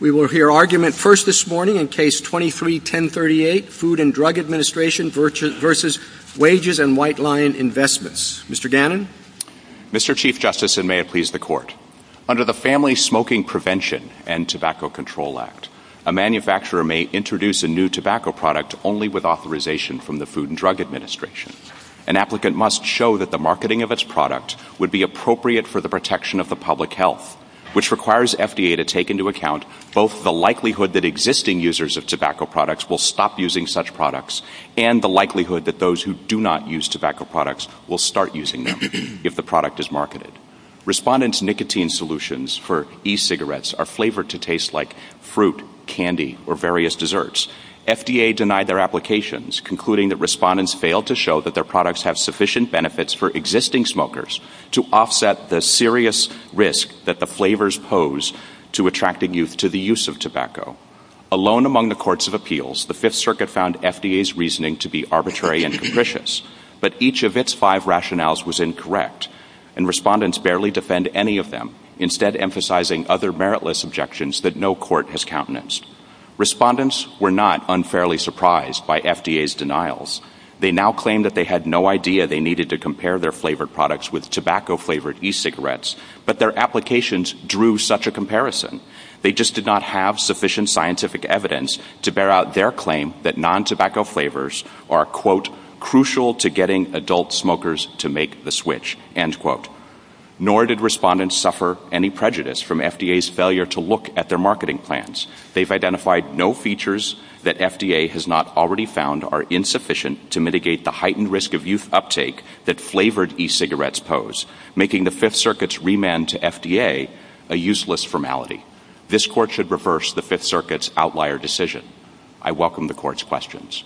We will hear argument first this morning in Case 23-1038, Food and Drug Administration v. Wages and White Lion Investments. Mr. Dannen? Mr. Chief Justice, and may it please the Court, under the Family Smoking Prevention and Tobacco Control Act, a manufacturer may introduce a new tobacco product only with authorization from the Food and Drug Administration. An applicant must show that the marketing of its product would be appropriate for the protection of the public health, which requires FDA to take into account both the likelihood that existing users of tobacco products will stop using such products and the likelihood that those who do not use tobacco products will start using them if the product is marketed. Respondents' nicotine solutions for e-cigarettes are flavored to taste like fruit, candy, or various desserts. FDA denied their applications, concluding that respondents failed to show that their products have sufficient risk that the flavors pose to attracting youth to the use of tobacco. Alone among the Courts of Appeals, the Fifth Circuit found FDA's reasoning to be arbitrary and atrocious, but each of its five rationales was incorrect, and respondents barely defend any of them, instead emphasizing other meritless objections that no court has countenanced. Respondents were not unfairly surprised by FDA's denials. They now claim that they had no idea they needed to compare their products with tobacco-flavored e-cigarettes, but their applications drew such a comparison. They just did not have sufficient scientific evidence to bear out their claim that non-tobacco flavors are, quote, crucial to getting adult smokers to make the switch, end quote. Nor did respondents suffer any prejudice from FDA's failure to look at their marketing plans. They've identified no features that FDA has not already found are insufficient to mitigate the risk of youth uptake that flavored e-cigarettes pose, making the Fifth Circuit's remand to FDA a useless formality. This Court should reverse the Fifth Circuit's outlier decision. I welcome the Court's questions.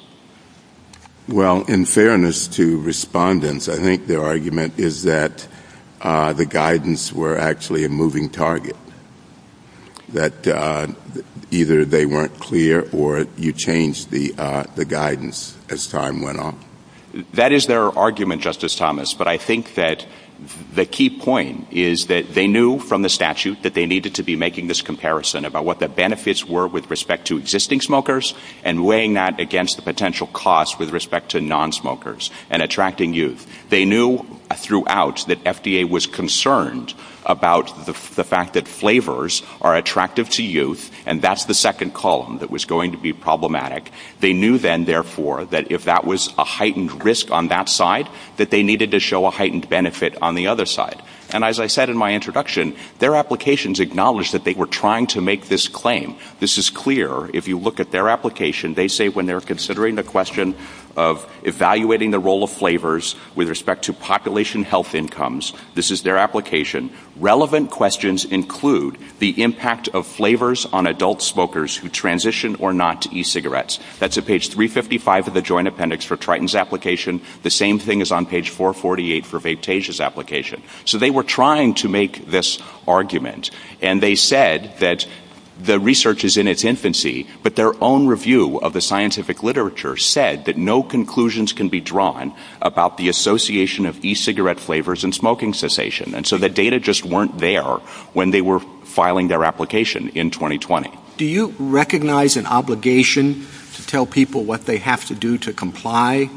Well, in fairness to respondents, I think their argument is that the guidance were actually a moving target, that either they weren't clear or you changed the guidance as time went on. That is their argument, Justice Thomas, but I think that the key point is that they knew from the statute that they needed to be making this comparison about what the benefits were with respect to existing smokers and weighing that against the potential costs with respect to non-smokers and attracting youth. They knew throughout that FDA was concerned about the fact that flavors are attractive to youth and that's the second column that was going to be problematic. They knew then, therefore, that if that was a heightened risk on that side, that they needed to show a heightened benefit on the other side. And as I said in my introduction, their applications acknowledged that they were trying to make this claim. This is clear. If you look at their application, they say when they're considering the question of evaluating the role of flavors with respect to population health incomes, this is their application, relevant questions include the impact of flavors on adult smokers who transition or not to e-cigarettes. That's at page 355 of the Joint Appendix for Triton's application. The same thing is on page 448 for Vantage's application. So they were trying to make this argument and they said that the research is in its infancy, but their own review of the scientific literature said that no conclusions can be drawn about the association of e-cigarette flavors and smoking cessation. And so the data just weren't there when they were filing their application in 2020. Do you recognize an obligation to tell people what they have to do to comply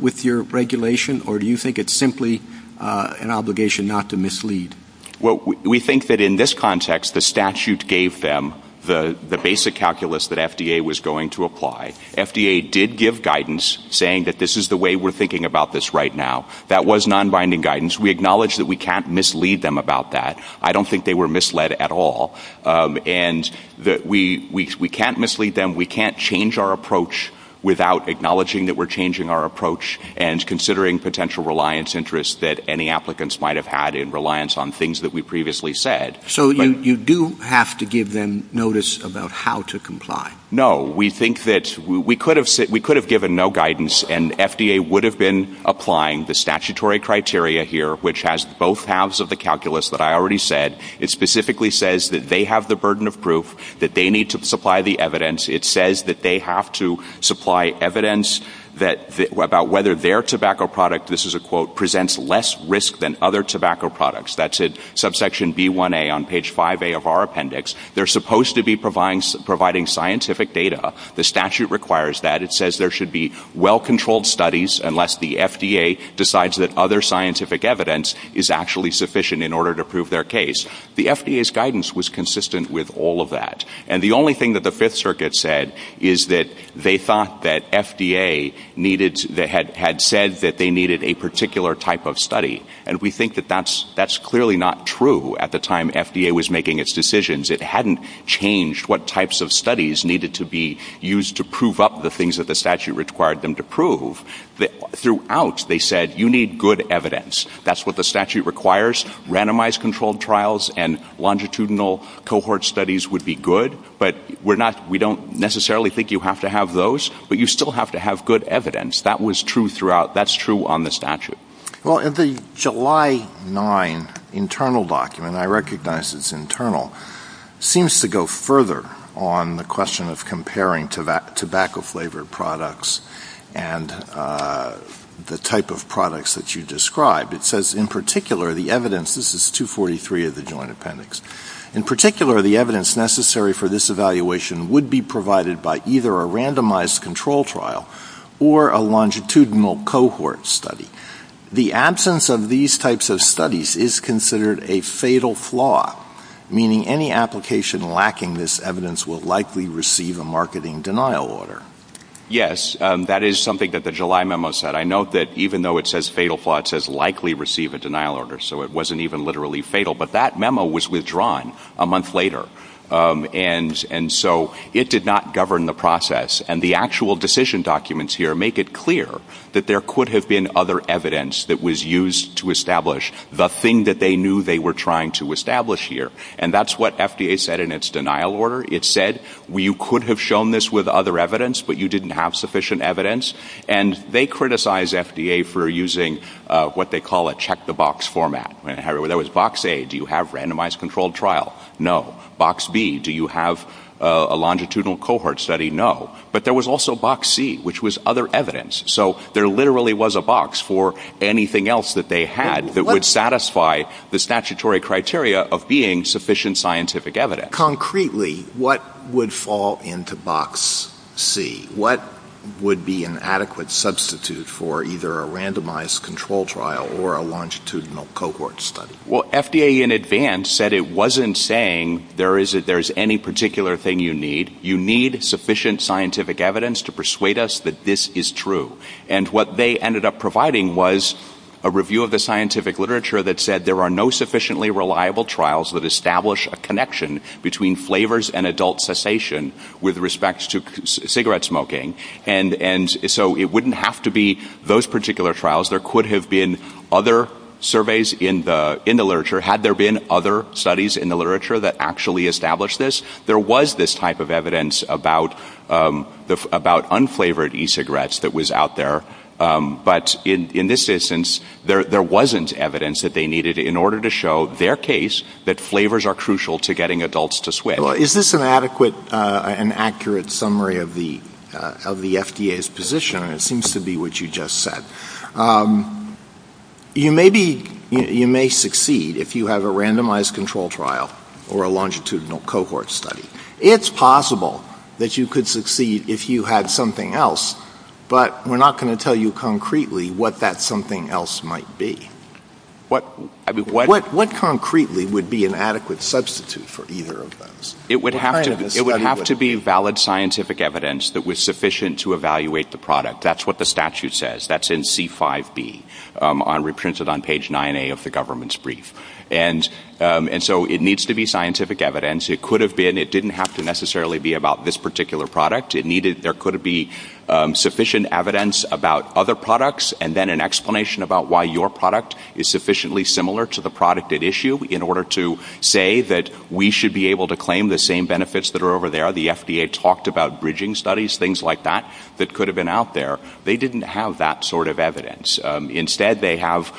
with your regulation or do you think it's simply an obligation not to mislead? Well, we think that in this context, the statute gave them the basic calculus that FDA was going to apply. FDA did give guidance saying that this is the way we're thinking about this right now. That was non-binding guidance. We acknowledge that we can't mislead them about that. I don't think they were misled at all and that we can't mislead them. We can't change our approach without acknowledging that we're changing our approach and considering potential reliance interests that any applicants might have had in reliance on things that we previously said. So you do have to give them notice about how to comply? No. We think that we could have given no guidance and FDA would have been applying the statutory criteria here, which has both halves of the calculus that I already said. It specifically says that they have the burden of proof, that they need to supply the evidence. It says that they have to supply evidence about whether their tobacco product, this is a quote, presents less risk than other tobacco products. That's at subsection B1A on page 5A of our appendix. They're supposed to be providing scientific data. The statute requires that. There should be well-controlled studies unless the FDA decides that other scientific evidence is actually sufficient in order to prove their case. The FDA's guidance was consistent with all of that. The only thing that the Fifth Circuit said is that they thought that FDA had said that they needed a particular type of study. We think that that's clearly not true. At the time FDA was making its decisions, it hadn't changed what types of studies needed to be used to prove up the things that the statute required them to prove. Throughout, they said you need good evidence. That's what the statute requires. Randomized controlled trials and longitudinal cohort studies would be good, but we don't necessarily think you have to have those, but you still have to have good evidence. That was true throughout. That's true on the statute. Well, the July 9 internal document, I recognize it's internal, seems to go further on the question of comparing tobacco-flavored products and the type of products that you describe. It says, in particular, the evidence, this is 243 of the Joint Appendix, in particular, the evidence necessary for this evaluation would be provided by either a randomized control trial or a longitudinal cohort study. The absence of these types of studies is considered a fatal flaw, meaning any application lacking this evidence will likely receive a marketing denial order. Yes, that is something that the July memo said. I note that even though it says fatal flaw, it says likely receive a denial order, so it wasn't even literally fatal, but that memo was withdrawn a month later, and so it did not govern the process. The actual decision documents here make it clear that there could have been other evidence that was used to establish the thing that they knew they were trying to establish here, and that's what FDA said in its denial order. It said you could have shown this with other evidence, but you didn't have sufficient evidence, and they criticized FDA for using what they call a check-the-box format. There was box A, do you have randomized controlled trial? No. Box B, do you have a longitudinal cohort study? No. But there was also box C, which was other evidence, so there literally was a box for anything else that they had that would satisfy the statutory criteria of being sufficient scientific evidence. Concretely, what would fall into box C? What would be an adequate substitute for either a randomized controlled trial or a longitudinal cohort study? Well, FDA in advance said it wasn't saying there's any particular thing you need. You need sufficient scientific evidence to persuade us that this is true, and what they ended up providing was a review of the scientific literature that said there are no sufficiently reliable trials that establish a connection between flavors and adult cessation with respect to cigarette smoking, and so it wouldn't have to be those particular trials. There could have been other surveys in the literature. Had there been other studies in the literature that actually established this, there was this evidence about unflavored e-cigarettes that was out there, but in this instance, there wasn't evidence that they needed in order to show their case that flavors are crucial to getting adults to switch. Is this an adequate and accurate summary of the FDA's position? It seems to be what you just said. You may succeed if you have a randomized controlled trial or a longitudinal cohort study. It's possible that you could succeed if you had something else, but we're not going to tell you concretely what that something else might be. What concretely would be an adequate substitute for either of those? It would have to be valid scientific evidence that was sufficient to evaluate the product. That's what the statute says. That's in C5B. I reprinted page 9A of the government's brief. It needs to be scientific evidence. It didn't have to necessarily be about this particular product. There could be sufficient evidence about other products and then an explanation about why your product is sufficiently similar to the product at issue in order to say that we should be able to claim the same benefits that are over there. The FDA talked about bridging studies, things like that, that could have been out there. They didn't have that sort of evidence. Instead, they have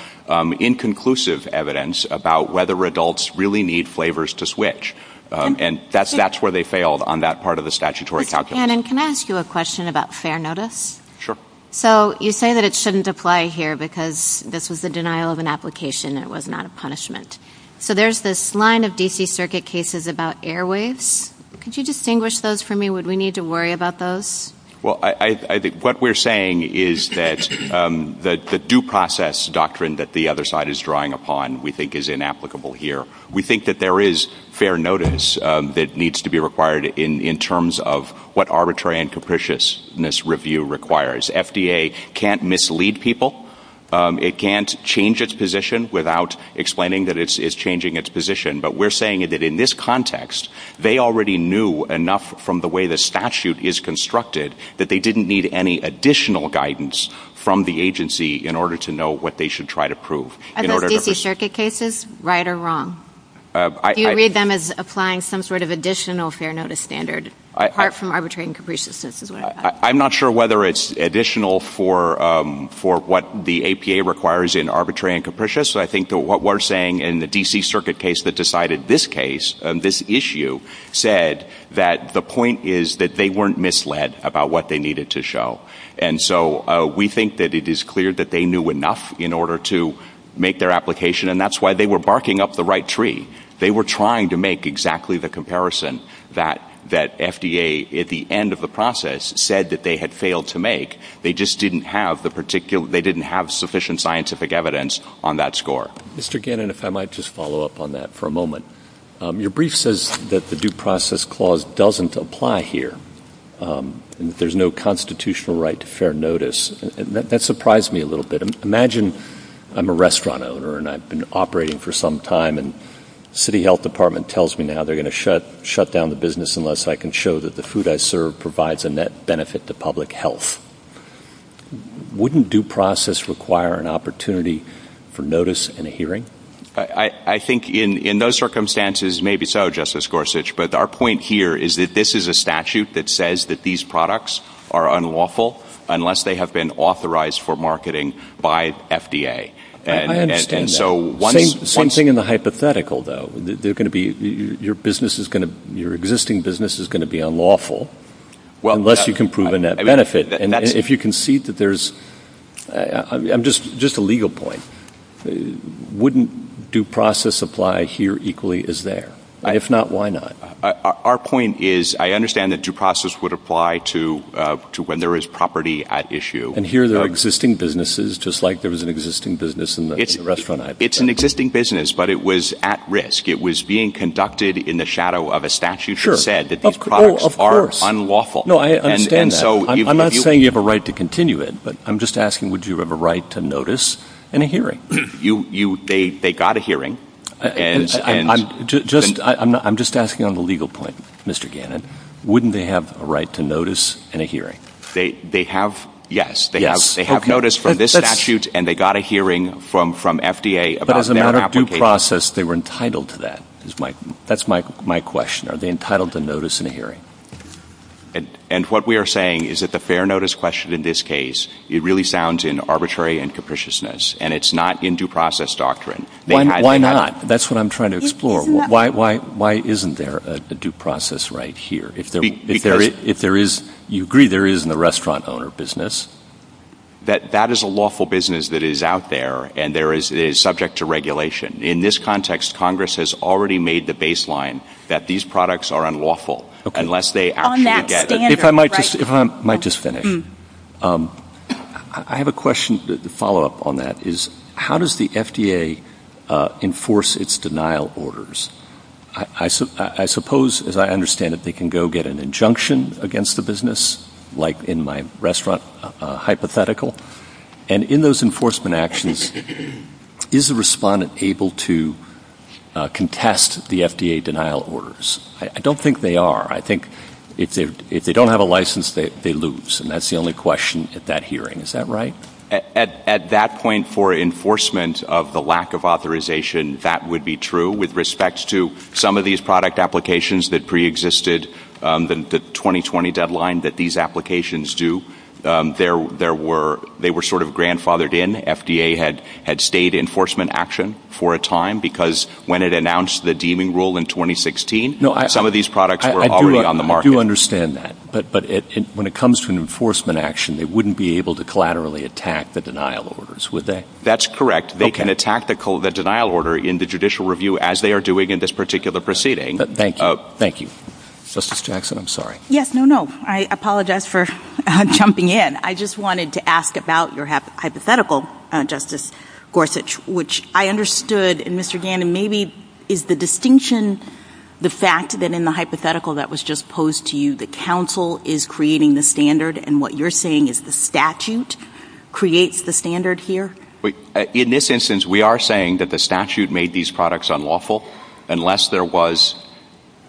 inconclusive evidence about whether adults really need flavors to switch. That's where they failed on that part of the statutory calculus. Can I ask you a question about fair notice? Sure. You say that it shouldn't apply here because this was a denial of an application and it was not a punishment. There's this line of D.C. circuit cases about airways. Could you distinguish those for me? Would we need to worry about those? What we're saying is that the due process doctrine that the other side is drawing upon we think is inapplicable here. We think that there is fair notice that needs to be required in terms of what arbitrary and capriciousness review requires. FDA can't mislead people. It can't change its position without explaining that it's changing its position. We're saying that they didn't need any additional guidance from the agency in order to know what they should try to prove. Are those D.C. circuit cases right or wrong? Do you read them as applying some sort of additional fair notice standard apart from arbitrary and capriciousness? I'm not sure whether it's additional for what the APA requires in arbitrary and capricious. I think what we're saying in the D.C. circuit case that decided this issue said that the point is that they weren't misled about what they needed to show. We think that it is clear that they knew enough in order to make their application. That's why they were barking up the right tree. They were trying to make exactly the comparison that FDA at the end of the process said that they had failed to make. They just didn't have sufficient scientific evidence on that score. Mr. Gannon, if I might just follow up on that for a moment. Your brief says that the due process doesn't apply here and there's no constitutional right to fair notice. That surprised me a little bit. Imagine I'm a restaurant owner and I've been operating for some time and the city health department tells me now they're going to shut down the business unless I can show that the food I serve provides a net benefit to public health. Wouldn't due process require an opportunity for notice and a hearing? I think in those circumstances, maybe so, Justice Gorsuch, but our point here is that this is a statute that says that these products are unlawful unless they have been authorized for marketing by FDA. I understand that. Same thing in the hypothetical though. Your existing business is going to be unlawful unless you can prove a net benefit. If you concede that there's, I'm just a legal point, wouldn't due process apply here equally as there? If not, why not? Our point is I understand that due process would apply to when there is property at issue. And here there are existing businesses just like there was an existing business in the restaurant. It's an existing business, but it was at risk. It was being conducted in the shadow of a statute that said that these products are unlawful. I understand that. I'm not saying you have a right to continue it, but I'm just asking, would you have a right to notice and a hearing? They got a hearing. I'm just asking on the legal point, Mr. Gannon, wouldn't they have a right to notice and a hearing? They have, yes. They have notice from this statute and they got a hearing from FDA. But as a matter of due process, they were entitled to that. That's my question. Are And what we are saying is that the fair notice question in this case, it really sounds in arbitrary and capriciousness and it's not in due process doctrine. Why not? That's what I'm trying to explore. Why isn't there a due process right here? If there is, you agree there is in the restaurant owner business. That is a lawful business that is out there and there is subject to regulation. In this context, Congress has already made the baseline that these products are unlawful unless they act together. If I might just finish. I have a question to follow up on that. How does the FDA enforce its denial orders? I suppose, as I understand it, they can go get an injunction against the business, like in my restaurant hypothetical. And in those enforcement actions, is the respondent able to contest the FDA denial orders? I don't think they are. I think if they don't have a license, they lose. And that's the only question at that hearing. Is that right? At that point for enforcement of the lack of authorization, that would be true. With respect to some of these product applications that preexisted the 2020 deadline that these do, they were sort of grandfathered in. FDA had stayed enforcement action for a time because when it announced the deeming rule in 2016, some of these products were already on the market. I do understand that. But when it comes to an enforcement action, they wouldn't be able to collaterally attack the denial orders, would they? That's correct. They can attack the denial order in the judicial review as they are doing in this particular proceeding. Thank you. Justice Jackson, I'm sorry. Yes, no, no. I apologize for jumping in. I just wanted to ask about your hypothetical, Justice Gorsuch, which I understood. And Mr. Gannon, maybe is the distinction, the fact that in the hypothetical that was just posed to you, the council is creating the standard and what you're saying is the statute creates the standard here? In this instance, we are saying that the statute made these products unlawful unless there was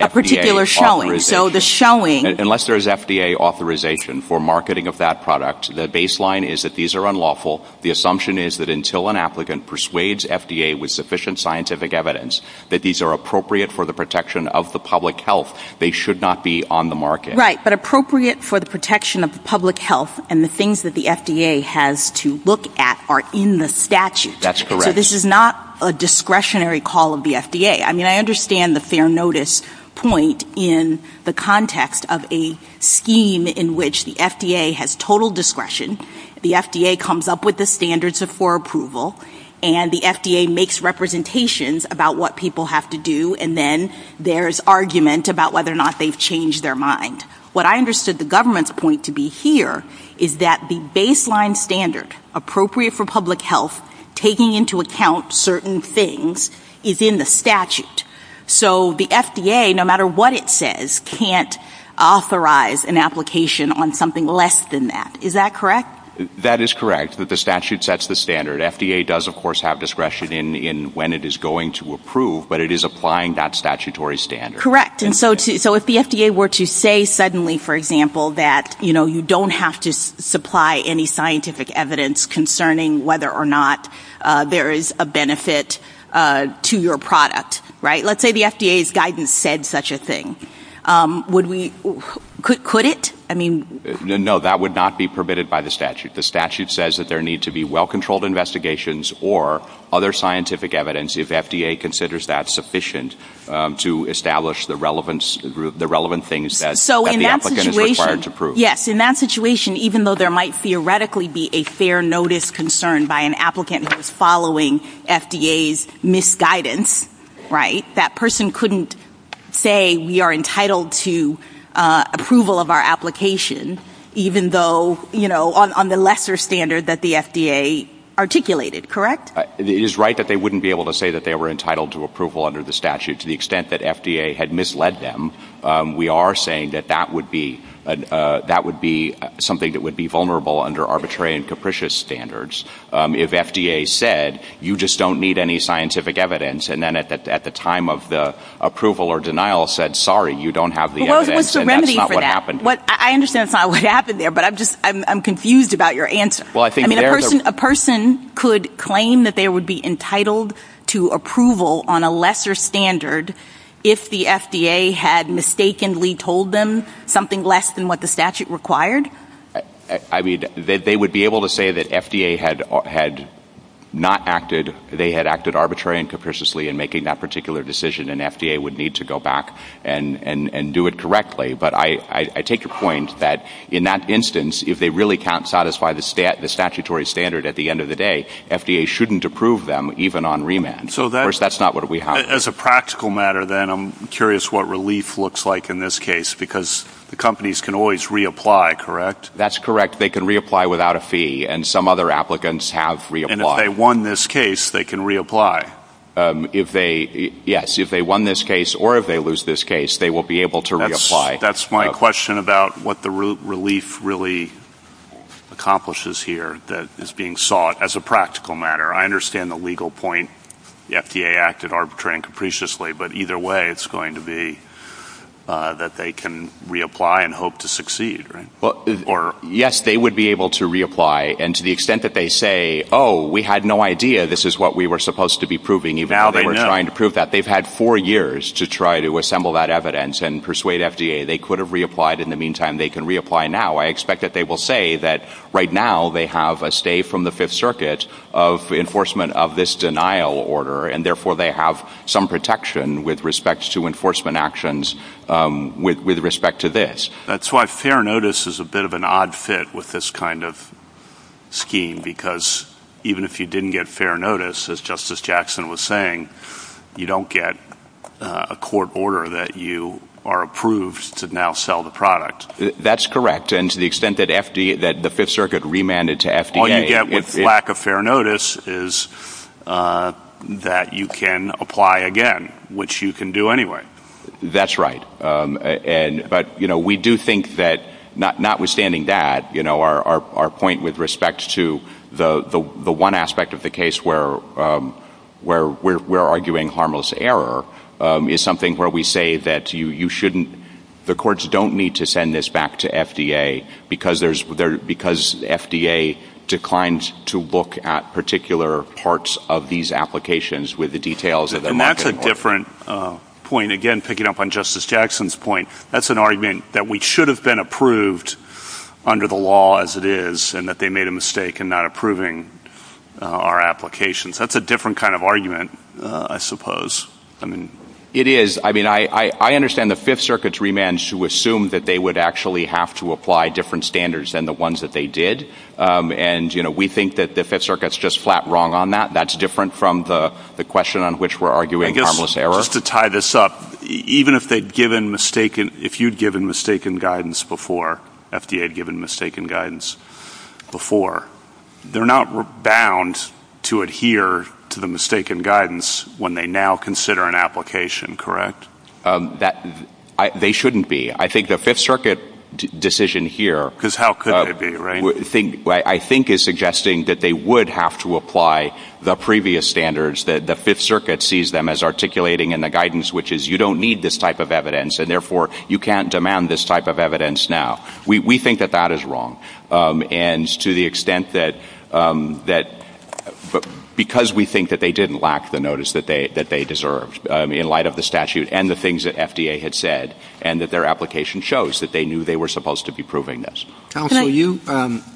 a particular showing. So the showing... Unless there is FDA authorization for marketing of that product, the baseline is that these are unlawful. The assumption is that until an applicant persuades FDA with sufficient scientific evidence that these are appropriate for the protection of the public health, they should not be on the market. Right. But appropriate for the protection of the public health and the things that the FDA has to look at are in the statute. That's correct. This is not a discretionary call of the FDA. I mean, I understand the fair notice point in the context of a scheme in which the FDA has total discretion. The FDA comes up with the standards of for approval and the FDA makes representations about what people have to do. And then there's argument about whether or not they've changed their mind. What I understood the government's point to be here is that the baseline standard appropriate for public health, taking into account certain things, is in the statute. So the FDA, no matter what it says, can't authorize an application on something less than that. Is that correct? That is correct. The statute sets the standard. FDA does, of course, have discretion in when it is going to approve, but it is applying that statutory standard. Correct. And so if the FDA were to say suddenly, for example, that you don't have to supply any scientific evidence concerning whether or not there is a benefit to your product, right? Let's say the FDA's guidance said such a thing. Could it? No, that would not be permitted by the statute. The statute says that there need to be well controlled investigations or other scientific evidence if FDA considers that sufficient to establish the relevant things that the applicant is required to prove. Yes. In that situation, even though there might theoretically be a fair notice concern by an applicant who is following FDA's misguidance, right? That person couldn't say we are entitled to approval of our application even though, you know, on the lesser standard that the FDA articulated, correct? It is right that they wouldn't be able to say that they were entitled to approval under the statute. To the extent that FDA had misled them, we are saying that that would be something that would be vulnerable under arbitrary and capricious standards. If FDA said you just don't need any scientific evidence and then at the time of the approval or denial said, sorry, you don't have the evidence and that's not what happened. I understand that's not what happened there, but I'm confused about your answer. A person could claim that they would be entitled to approval on a lesser standard if the FDA had mistakenly told them something less than what the statute required? I mean, they would be able to say that FDA had not acted, they had acted arbitrary and capriciously in making that particular decision and FDA would need to go back and do it correctly. But I take your point that in that instance, if they really can't satisfy the statutory standard at the end of the day, FDA shouldn't approve them even on remand. That's not what we have. As a practical matter then, I'm curious what relief looks like in this case because the companies can always reapply, correct? That's correct. They can reapply without a fee and some other applicants have reapplied. And if they won this case, they can reapply? If they, yes, if they won this case or if they lose this case, they will be able to reapply. That's my question about what the relief really accomplishes here that is being sought as a practical matter. I understand the legal point, the FDA acted arbitrary and capriciously, but either way, it's going to be that they can reapply and hope to succeed, right? Yes, they would be able to reapply. And to the extent that they say, oh, we had no idea this is what we were supposed to be proving, even now they're trying to prove that they've had four years to try to assemble that evidence and persuade FDA, they could have reapplied in the meantime, they can reapply now. I expect that they will say that right now they have a stay from the Fifth Circuit of enforcement of this denial order, and therefore they have some protection with respect to enforcement actions with respect to this. That's why fair notice is a bit of an odd fit with this kind of scheme, because even if you didn't get fair notice, as Justice Jackson was saying, you don't get a court order that you are approved to now sell the product. That's correct. And to the extent that the Fifth Circuit remanded to FDA... All you get with lack of fair notice is that you can apply again, which you can do anyway. That's right. But we do think that notwithstanding that, our point with respect to the one aspect of the case where we're arguing harmless error is something where we say that you shouldn't, the courts don't need to send this back to FDA because the FDA declined to look at particular parts of these applications with the details of the market. That's a different point. Again, picking up on Justice Jackson's point, that's an argument that we should have been approved under the law as it is, and that they made a mistake in not approving our applications. That's a different kind of argument, I suppose. It is. I mean, I understand the Fifth Circuit's remand to assume that they would actually have to apply different standards than the ones that they did. And we think that the Fifth Circuit's just flat wrong on that. That's different from the question on which we're arguing harmless error. Just to tie this up, even if you'd given mistaken guidance before, FDA had given mistaken guidance before, they're not bound to adhere to the mistaken guidance when they now consider an application, correct? They shouldn't be. I think the Fifth Circuit decision here— Because how could they be, right? I think is suggesting that they would have to apply the previous standards that the Fifth Circuit sees them as articulating in the guidance, which is you don't need this type of evidence, and therefore you can't demand this type of evidence now. We think that that is wrong. And to the extent that because we think that they didn't lack the notice that they deserved in light of the statute and the things that FDA had said, and that their application shows that they knew they were supposed to be proving this. Counsel, you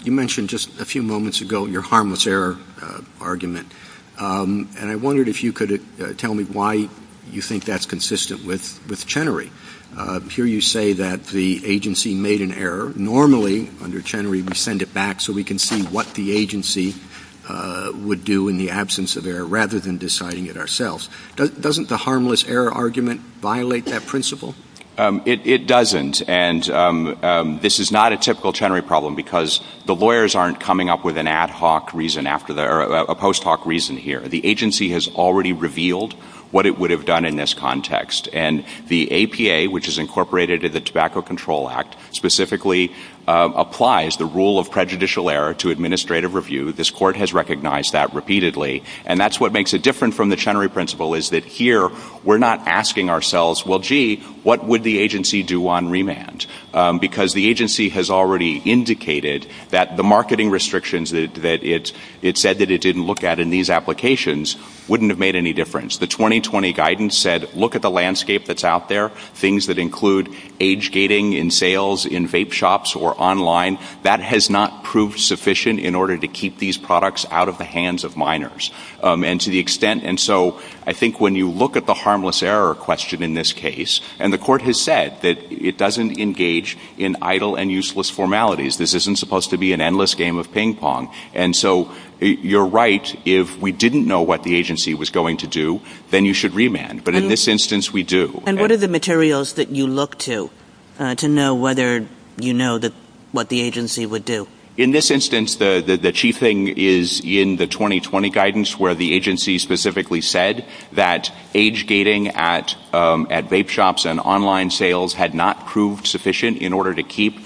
mentioned just a few moments ago your harmless error argument. And I wondered if you could tell me why you think that's consistent with Chenery. Here you say that the agency made an error. Normally, under Chenery, we send it back so we can see what the agency would do in the absence of error rather than deciding it ourselves. Doesn't the harmless error argument violate that principle? It doesn't. And this is not a typical Chenery problem because the lawyers aren't coming up with an ad hoc reason after that or a post hoc reason here. The agency has already revealed what it would have done in this context. And the APA, which is incorporated in the Tobacco Control Act, specifically applies the rule of prejudicial error to administrative review. This court has recognized that repeatedly. And that's what makes it different from the Chenery principle is that here we're not asking ourselves, well, gee, what would the agency do on remand? Because the agency has already indicated that the marketing restrictions that it said that it didn't look at in these applications wouldn't have made any difference. The 2020 guidance said, look at the landscape that's out there, things that include age gating in sales, in vape shops or online. That has not proved sufficient in order to keep these products out of the hands of minors. And to the extent, and so I think when you look at the harmless error question in this case, and the court has said that it doesn't engage in idle and useless formalities. This isn't supposed to be an endless game of ping pong. And so you're right. If we didn't know what the agency was going to do, then you should remand. But in this instance, we do. And what are the materials that you look to to know whether you know that what the agency would do? In this instance, the chief thing is in the 2020 guidance where the agency specifically said that age gating at vape shops and online sales had not proved sufficient in order to keep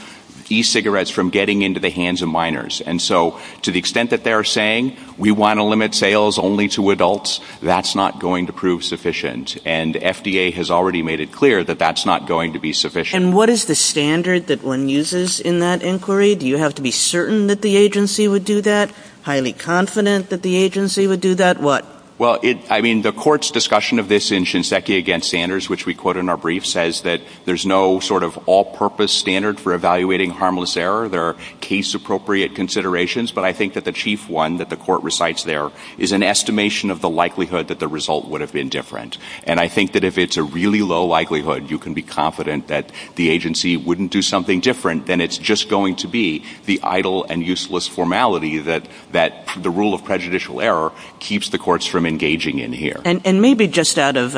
e-cigarettes from getting into the hands of minors. And so to the extent that they're saying we want to limit sales only to adults, that's not going to prove sufficient. And FDA has already made it clear that that's not going to be sufficient. And what is the standard that one uses in that inquiry? Do you have to be certain that the agency would do that? Highly confident that the agency would do that? What? Well, I mean, the court's discussion of this in Shinseki against standards, which we quote in our brief, says that there's no sort of all purpose standard for evaluating harmless error. There are case appropriate considerations. But I think that the chief one that the court recites there is an estimation of the likelihood that the result would have been different. And I think that if it's a really low likelihood, you can be confident that the agency wouldn't do something different than it's just going to be the idle and useless formality that that the rule of prejudicial error keeps the courts from engaging in here. And maybe just out of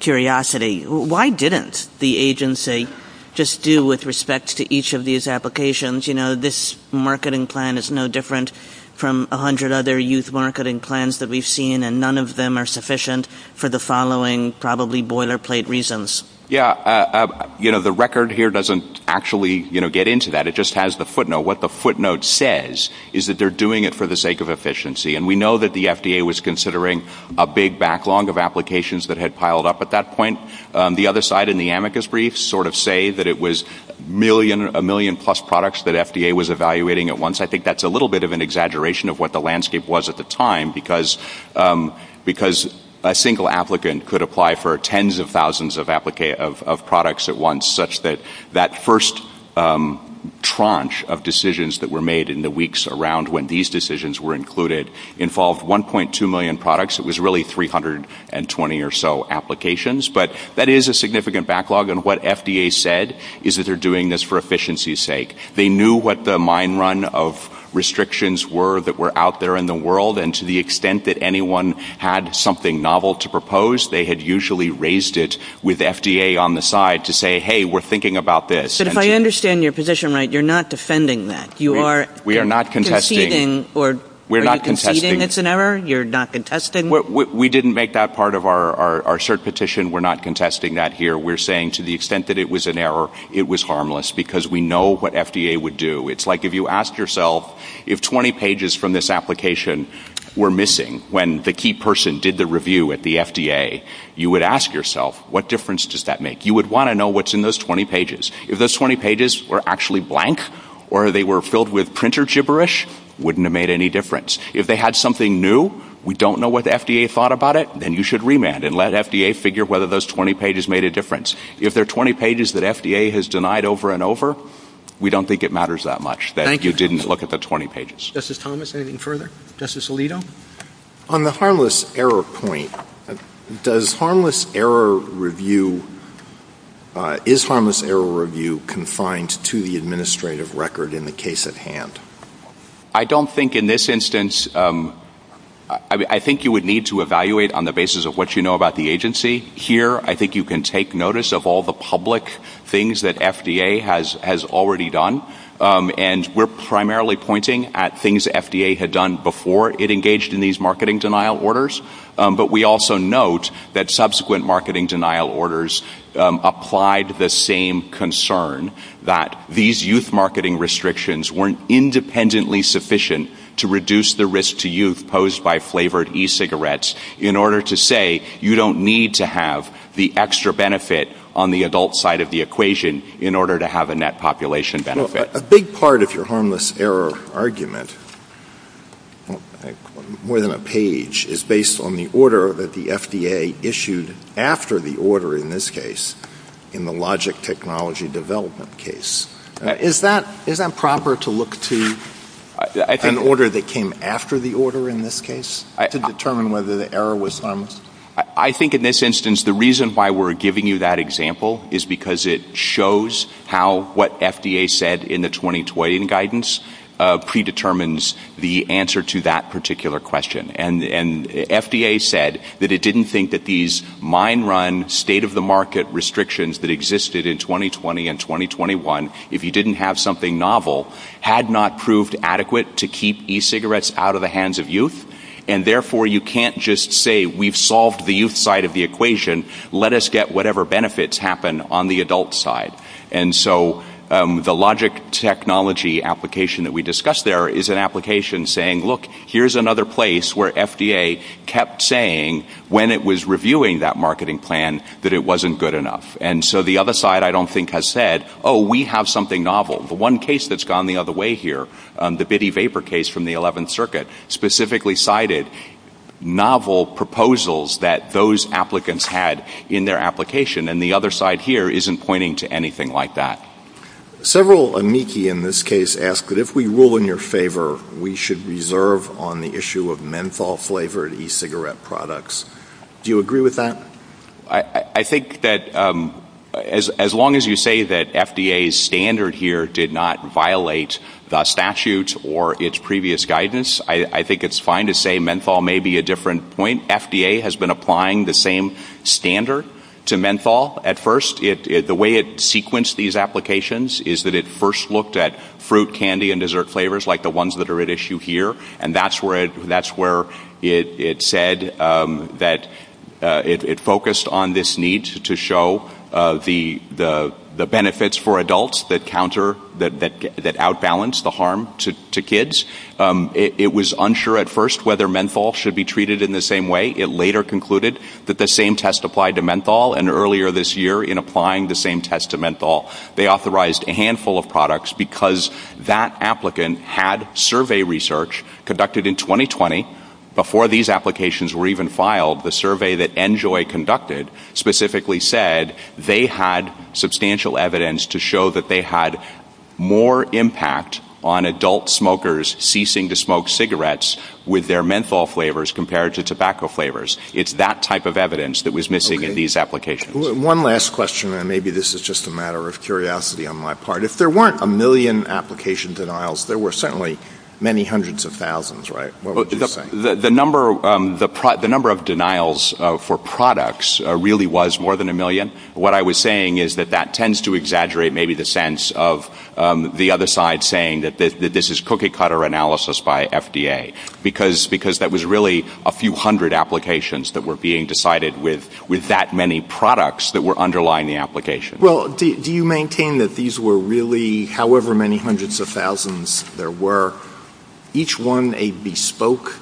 curiosity, why didn't the agency just do with respect to each of these applications? You know, this marketing plan is no different from 100 other youth marketing plans that we've seen, and none of them are sufficient for the following probably boilerplate reasons. Yeah. You know, the record here doesn't actually, you know, get into that. It just has the footnote. What the footnote says is that they're doing it for the sake of efficiency. And we know that FDA was considering a big backlog of applications that had piled up at that point. The other side in the amicus briefs sort of say that it was a million plus products that FDA was evaluating at once. I think that's a little bit of an exaggeration of what the landscape was at the time because a single applicant could apply for tens of thousands of products at once, such that that first tranche of decisions that were made in the weeks around when these decisions were included involved 1.2 million products. It was really 320 or so applications. But that is a significant backlog. And what FDA said is that they're doing this for efficiency's sake. They knew what the mine run of restrictions were that were out there in the world. And to the extent that anyone had something novel to propose, they had usually raised it with FDA on the side to say, hey, we're thinking about this. But if I understand your position right, you're not defending that. You are conceding it's an error? You're not contesting? We didn't make that part of our cert petition. We're not contesting that here. We're saying to the extent that it was an error, it was harmless because we know what FDA would do. It's like if you ask yourself if 20 pages from this application were missing when the key person did the review at the FDA, you would ask yourself, what difference does that make? You would want to know what's in those 20 pages. If those 20 pages were actually blank or they were filled with printer gibberish, wouldn't have made any difference. If they had something new, we don't know what the FDA thought about it, then you should remand and let FDA figure whether those 20 pages made a difference. If there are 20 pages that FDA has denied over and over, we don't think it matters that much that you didn't look at the 20 pages. Justice Thomas, anything further? Justice Alito? On the harmless error point, is harmless error review confined to the administrative record in the case at hand? I don't think in this instance. I think you would need to evaluate on the basis of what you know about the agency. Here, I think you can take notice of all the public things that FDA has already done, and we're primarily pointing at things FDA had done before it engaged in these marketing denial orders, but we also note that subsequent marketing denial orders applied the same concern that these youth marketing restrictions weren't independently sufficient to reduce the risk to youth posed by flavored e-cigarettes in order to say you don't need to have the extra benefit on the adult side of the equation in order to have a net population benefit. A big part of your harmless error argument, more than a page, is based on the order that the FDA issued after the order in this case in the logic technology development case. Is that proper to look to an order that came after the order in this case to determine whether the error was harmless? I think in this instance, the reason why we're giving you that example is because it shows how what FDA said in the 2020 guidance predetermines the answer to that particular question, and FDA said that it didn't think that these mind-run, state-of-the-market restrictions that existed in 2020 and 2021, if you didn't have something novel, had not proved adequate to keep e-cigarettes out of hands of youth, and therefore you can't just say we've solved the youth side of the equation, let us get whatever benefits happen on the adult side. And so the logic technology application that we discussed there is an application saying, look, here's another place where FDA kept saying when it was reviewing that marketing plan that it wasn't good enough. And so the other side, I don't think, has said, oh, we have something novel. The one case that's gone the other way here, the Bitty Vapor case from the 11th Circuit, specifically cited novel proposals that those applicants had in their application, and the other side here isn't pointing to anything like that. Several amici in this case ask that if we rule in your favor, we should reserve on the issue of menthol-flavored e-cigarette products. Do you agree with that? I think that as long as you say that FDA's standard here did not violate the statute or its previous guidance, I think it's fine to say menthol may be a different point. FDA has been applying the same standard to menthol at first. The way it sequenced these applications is that it first looked at fruit, candy, and dessert flavors like the ones that are at issue here, and that's where it said that it focused on this need to show the benefits for adults that outbalance the harm to kids. It was unsure at first whether menthol should be treated in the same way. It later concluded that the same test applied to menthol, and earlier this year, in applying the same test to menthol, they authorized a handful of products because that applicant had survey research conducted in 2020. Before these applications were even filed, the survey that NJOY conducted specifically said they had substantial evidence to show that they had more impact on adult smokers ceasing to smoke cigarettes with their menthol flavors compared to tobacco flavors. It's that type of evidence that was missing in these applications. One last question, and maybe this is just a matter of curiosity on my part. If there were a million application denials, there were certainly many hundreds of thousands, right? The number of denials for products really was more than a million. What I was saying is that that tends to exaggerate maybe the sense of the other side saying that this is cookie cutter analysis by FDA, because that was really a few hundred applications that were being decided with that many products that were underlying the application. Do you maintain that these were really, however many hundreds of thousands there were, each one a bespoke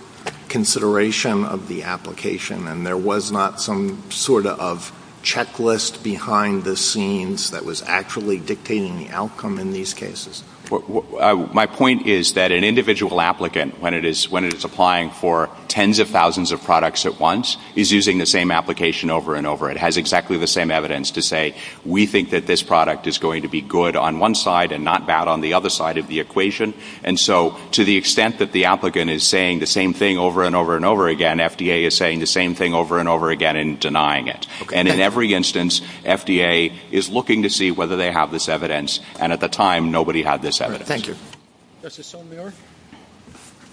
consideration of the application, and there was not some sort of checklist behind the scenes that was actually dictating the outcome in these cases? My point is that an individual applicant, when it is applying for tens of thousands of products at once, is using the same application over and over. It has the same evidence to say we think that this product is going to be good on one side and not bad on the other side of the equation. To the extent that the applicant is saying the same thing over and over and over again, FDA is saying the same thing over and over again and denying it. In every instance, FDA is looking to see whether they have this evidence, and at the time, nobody had this evidence.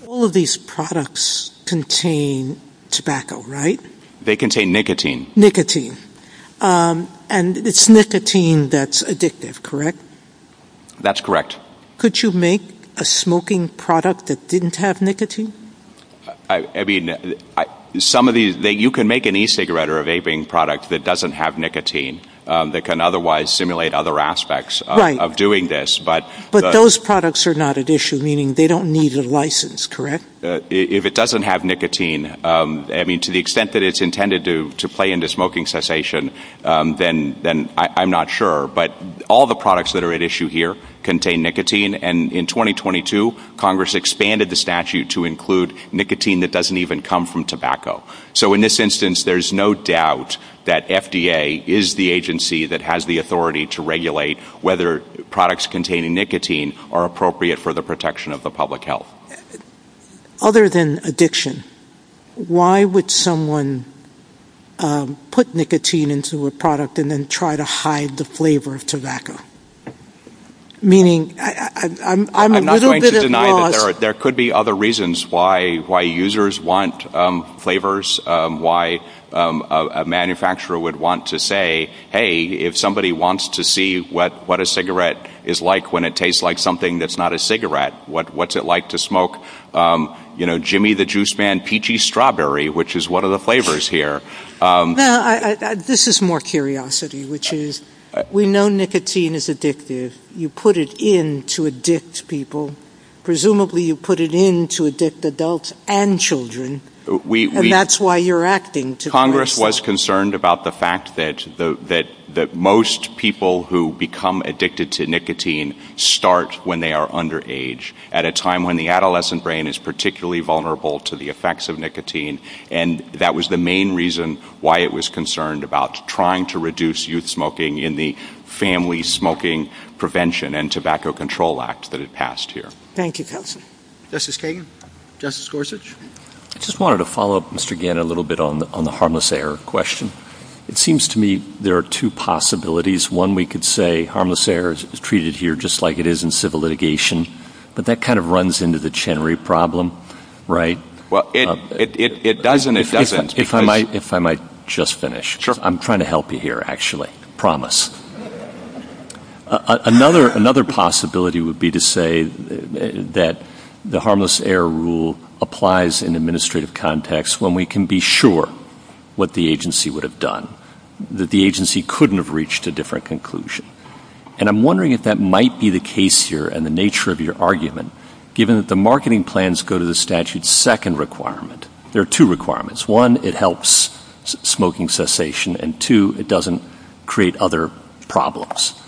All of these products contain tobacco, right? They contain nicotine. Nicotine. And it's nicotine that's addictive, correct? That's correct. Could you make a smoking product that didn't have nicotine? You can make an e-cigarette or a vaping product that doesn't have nicotine, that can otherwise simulate other aspects of doing this. But those products are not at issue, meaning they don't need a license, correct? If it doesn't have nicotine, to the extent that it's intended to play into smoking cessation, then I'm not sure. But all the products that are at issue here contain nicotine, and in 2022, Congress expanded the statute to include nicotine that doesn't even come from tobacco. So in this instance, there's no doubt that FDA is the agency that has the authority to regulate whether products containing nicotine are appropriate for the protection of the public health. Other than addiction, why would someone put nicotine into a product and then try to hide the flavor of tobacco? Meaning, I'm a little bit of a... I'm not going to deny that there could be other reasons why users want flavors, why a manufacturer would want to say, hey, if somebody wants to see what a cigarette is like when it tastes like something that's not a cigarette, what's it like to smoke Jimmy the Juice Man peachy strawberry, which is one of the flavors here. This is more curiosity, which is, we know nicotine is addictive. You put it in to addict people. Presumably, you put it in to addict adults and children. And that's why you're acting to... Congress was concerned about the fact that most people who become addicted to nicotine start when they are underage, at a time when the adolescent brain is particularly vulnerable to the effects of nicotine. And that was the main reason why it was concerned about trying to reduce youth smoking in the Family Smoking Prevention and Tobacco Control Act that had passed here. Thank you, Counselor. Justice Kagan? Justice Gorsuch? I just wanted to follow up, again, a little bit on the harmless error question. It seems to me there are two possibilities. One, we could say harmless errors are treated here just like it is in civil litigation, but that kind of runs into the Chenery problem, right? Well, it does and it doesn't. If I might just finish. Sure. I'm trying to help you here, actually. I promise. Another possibility would be to say that the harmless error rule applies in administrative context when we can be sure what the agency would have done, that the agency couldn't have reached a different conclusion. And I'm wondering if that might be the case here and the nature of your argument, given that the marketing plans go to the statute's second requirement. There are two requirements. One, it helps smoking cessation. And two, it doesn't create other problems.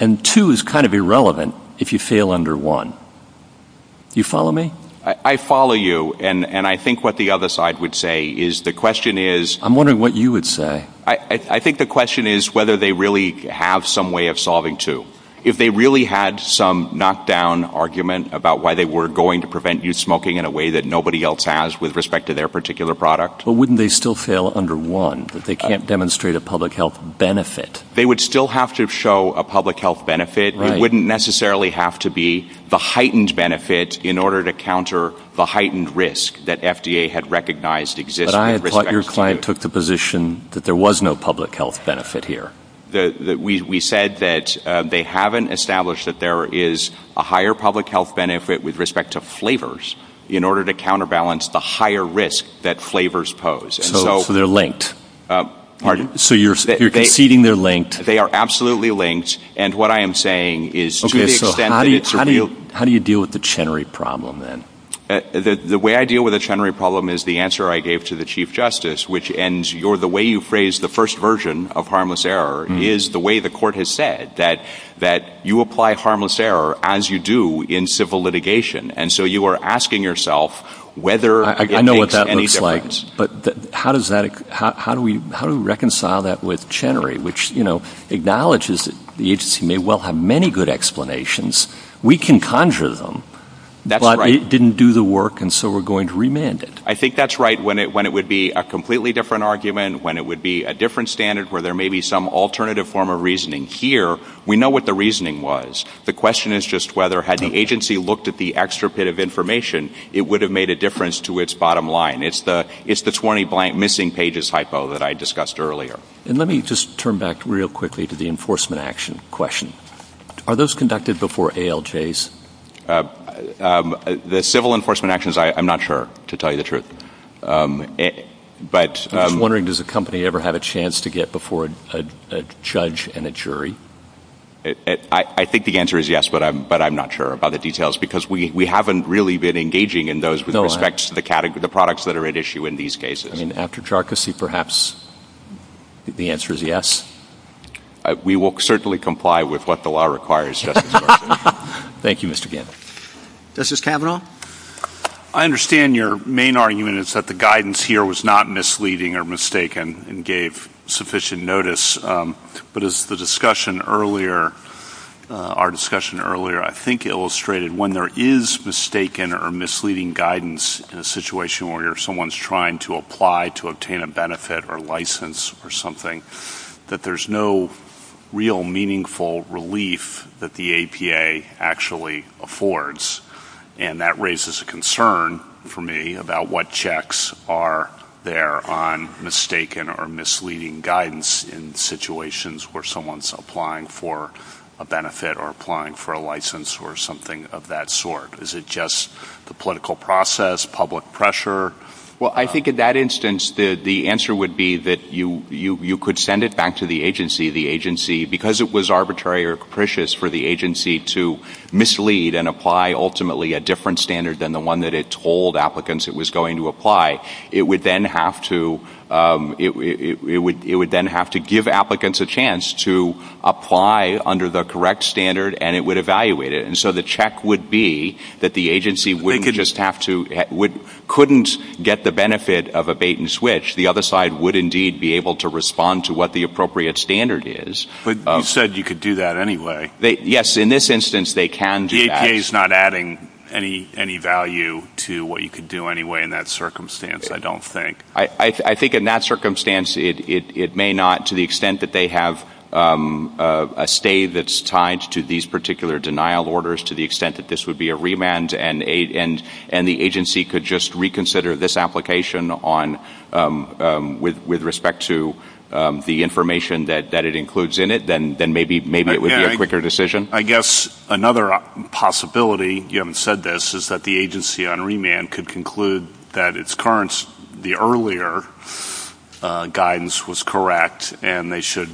And two, it's kind of irrelevant if you fail under one. Do you follow me? I follow you. And I think what the other side would say is the question is... I'm wondering what you would say. I think the question is whether they really have some way of solving two. If they really had some knockdown argument about why they were going to prevent youth smoking in a way that nobody else has with respect to their particular product... But wouldn't they still fail under one, that they can't demonstrate a public health benefit? They would still have to show a public health benefit. It wouldn't necessarily have to be the heightened benefit in order to counter the heightened risk that FDA had recognized existed. But I thought your client took the position that there was no public health benefit here. We said that they haven't established that there is a higher public health benefit with respect to flavors in order to counterbalance the higher risk that flavors pose. So they're linked. So you're conceding they're linked. They are absolutely linked. And what I am saying is... How do you deal with the Chenery problem then? The way I deal with the Chenery problem is the answer I gave to the Chief Justice, which ends the way you phrased the first version of harmless error is the way the court has said that you apply harmless error as you do in civil litigation. And so you are asking yourself whether... I know what that looks like. But how do we reconcile that with Chenery, which acknowledges that the agency may well have many good explanations. We can conjure them, but it didn't do the work and so we're going to remand it. I think that's right. When it would be a completely different argument, when it would be a different standard where there may be some alternative form of reasoning here, we know what the reasoning was. The question is just whether had the agency looked at the information, it would have made a difference to its bottom line. It's the 20 blank missing pages hypo that I discussed earlier. And let me just turn back real quickly to the enforcement action question. Are those conducted before ALJs? The civil enforcement actions, I'm not sure to tell you the truth. But I'm wondering, does a company ever had a chance to get before a judge and a jury? I think the answer is yes, but I'm not sure about the details because we haven't really been engaging in those with respect to the products that are at issue in these cases. And after charcoal, perhaps the answer is yes. We will certainly comply with what the law requires. Thank you, Mr. Gant. Justice Kavanaugh. I understand your main argument is that the guidance here was not misleading or mistaken and gave sufficient notice. But as the discussion earlier, our discussion earlier, I think, illustrated when there is mistaken or misleading guidance in a situation where someone's trying to apply to obtain a benefit or license for something, that there's no real meaningful relief that the APA actually affords. And that raises a concern for me about what checks are there on mistaken or misleading guidance in situations where someone's applying for a benefit or applying for a license or something of that sort. Is it just the political process, public pressure? Well, I think in that instance, the answer would be that you could send it back to the agency, the agency, because it was arbitrary or capricious for the agency to lead and apply ultimately a different standard than the one that it told applicants it was going to apply. It would then have to give applicants a chance to apply under the correct standard and it would evaluate it. And so the check would be that the agency wouldn't just have to, couldn't get the benefit of a bait and switch. The other side would indeed be able to respond to what the appropriate standard is. But you said you could do that anyway. Yes, in this instance, they can do that. The APA's not adding any value to what you could do anyway in that circumstance, I don't think. I think in that circumstance, it may not, to the extent that they have a stay that's tied to these particular denial orders, to the extent that this would be a remand and the agency could just reconsider this application with respect to the information that it includes in it, then maybe it would be a quicker decision. I guess another possibility, you haven't said this, is that the agency on remand could conclude that its current, the earlier guidance was correct and they should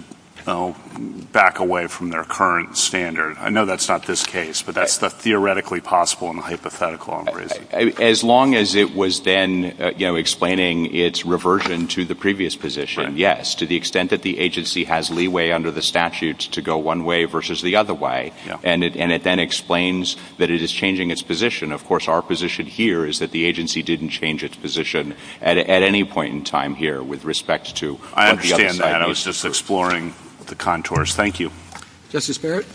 back away from their current standard. I know that's not this case, but that's theoretically possible in a hypothetical. As long as it was then explaining its reversion to the previous position, yes, to the extent that the agency has leeway under the statutes to go one way versus the other way, and it then explains that it is changing its position. Of course, our position here is that the agency didn't change its position at any point in time here with respect to- I understand that. I was just exploring the contours. Thank you. Justice Barrett?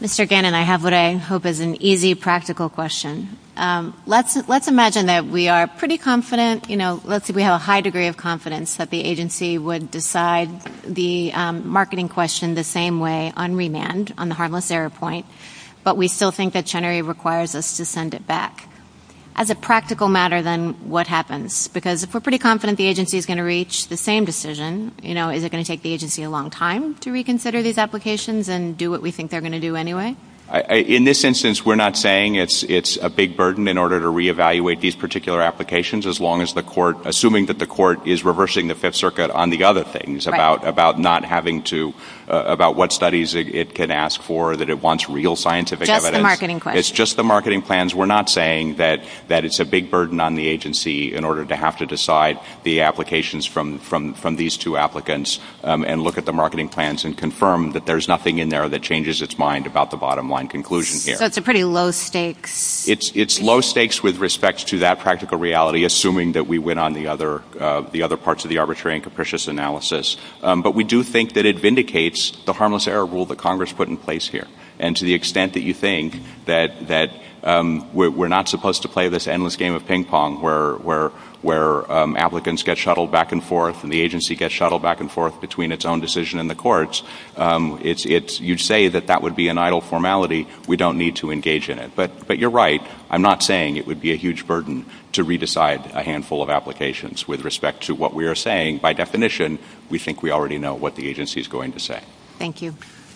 Mr. Gannon, I have what I hope is an easy, practical question. Let's imagine that we are pretty confident, let's say we have a high degree of confidence that the agency would decide the marketing question the same way on remand, on the harmless error point, but we still think that Chenery requires us to send it back. As a practical matter, then what happens? Because if we're pretty confident the agency is going to reach the same decision, is it going to take the agency a long time to reconsider these applications and do what we think they're going to do anyway? In this instance, we're not saying it's a big burden in order to reevaluate these particular applications, assuming that the court is reversing the Fifth Circuit on the other things, about what studies it can ask for, that it wants real scientific evidence. It's just the marketing plans. We're not saying that it's a big burden on the agency in order to have to decide the applications from these two applicants and look at the marketing plans and confirm that there's nothing in there that changes its mind about the bottom line conclusion here. That's a pretty low stake. It's low stakes with respect to that practical reality, assuming that we went on the other parts of the arbitrary and capricious analysis. But we do think that it vindicates the harmless error rule that Congress put in place here. And to the extent that you think that we're not supposed to play this endless game of ping pong where applicants get shuttled back and forth and the agency gets shuttled back and forth between its own decision and the court's, you'd say that would be an idle formality. We don't need to engage in it. But you're right. I'm not saying it would be a huge burden to re-decide a handful of applications with respect to what we are saying. By definition, we think we already know what the agency is going to say. Thank you.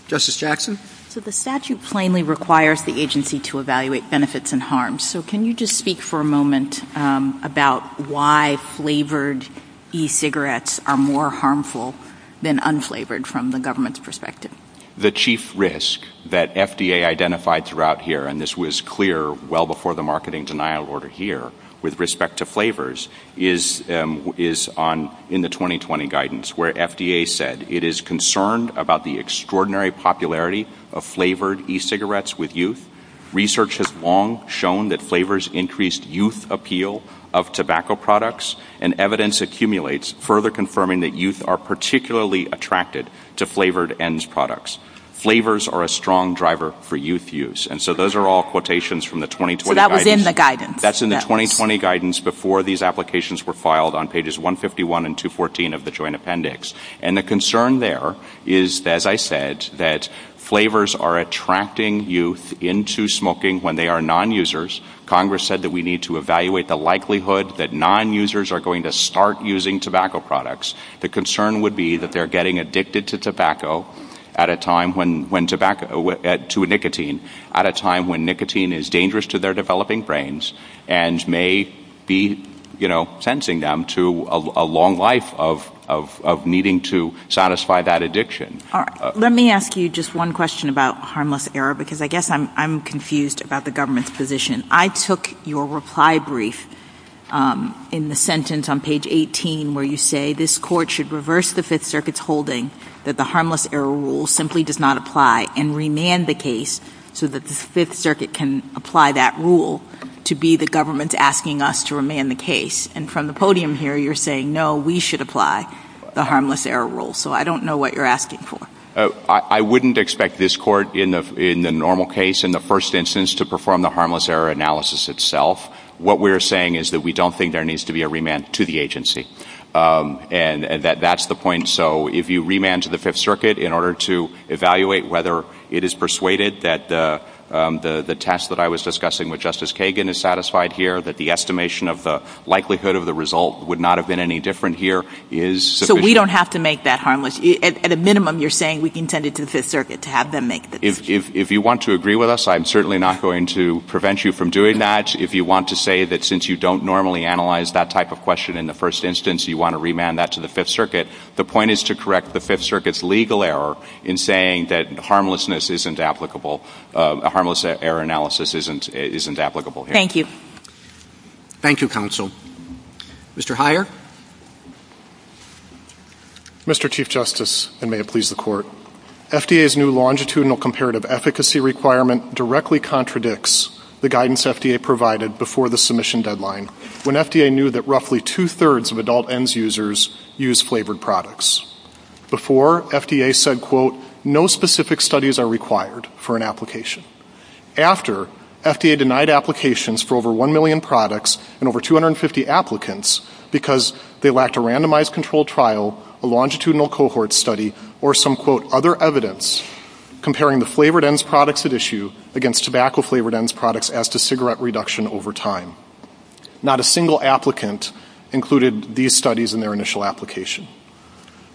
Justice Jackson? So the statute plainly requires the agency to evaluate benefits and harms. So can you just speak for a moment about why flavored e-cigarettes are more harmful than unflavored from the government's perspective? The chief risk that FDA identified throughout here, and this was clear well before the marketing denial order here with respect to flavors, is in the 2020 guidance where FDA said it is concerned about the extraordinary popularity of flavored e-cigarettes with youth. Research has long shown that flavors increased youth appeal of tobacco products and evidence accumulates further confirming that youth are particularly attracted to flavored end products. Flavors are a strong driver for youth use. And so those are all quotations from the 2020 guidance. So that was in the guidance? That's in the 2020 guidance before these applications were filed on pages 151 and 214 of the Joint Appendix. And the concern there is, as I said, that flavors are attracting youth into smoking when they are non-users. Congress said that we need to evaluate the likelihood that non-users are going to start using tobacco products. The concern would be that they're getting addicted to tobacco at a time when, to nicotine, at a time when nicotine is dangerous to their developing brains and may be, you know, sensing them to a long life of needing to satisfy that addiction. All right. Let me ask you just one question about harmless error, because I guess I'm confused about the government's position. I took your reply brief in the sentence on page 18, where you say this court should reverse the Fifth Circuit's holding that the harmless error rule simply does not apply and remand the case so that the Fifth Circuit can apply that rule to be the government's asking us to remand the case. And from the podium here, you're saying, no, we should apply the harmless error rule. So I don't know what you're asking for. I wouldn't expect this court in the normal case, in the first instance, to perform the harmless error analysis itself. What we're saying is that we don't think there needs to be a remand to the agency. And that's the point. So if you remand to the Fifth Circuit in order to evaluate whether it is persuaded that the test that I was discussing with Justice Kagan is satisfied here, that the estimation of the likelihood of the result would not have been any different here is sufficient. We don't have to make that harmless. At a minimum, you're saying we can send it to the Fifth Circuit to have them make it. If you want to agree with us, I'm certainly not going to prevent you from doing that. If you want to say that since you don't normally analyze that type of question in the first instance, you want to remand that to the Fifth Circuit, the point is to correct the Fifth Circuit's legal error in saying that harmlessness isn't applicable, a harmless error analysis isn't applicable. Thank you. Thank you, counsel. Mr. Heyer? Mr. Chief Justice, and may it please the Court, FDA's new longitudinal comparative efficacy requirement directly contradicts the guidance FDA provided before the submission deadline when FDA knew that roughly two-thirds of adult ENDS users use flavored products. Before, FDA said, quote, no specific studies are required for an application. After, FDA denied applications for 1 million products and over 250 applicants because they lacked a randomized control trial, a longitudinal cohort study, or some, quote, other evidence comparing the flavored ENDS products at issue against tobacco flavored ENDS products as to cigarette reduction over time. Not a single applicant included these studies in their initial application.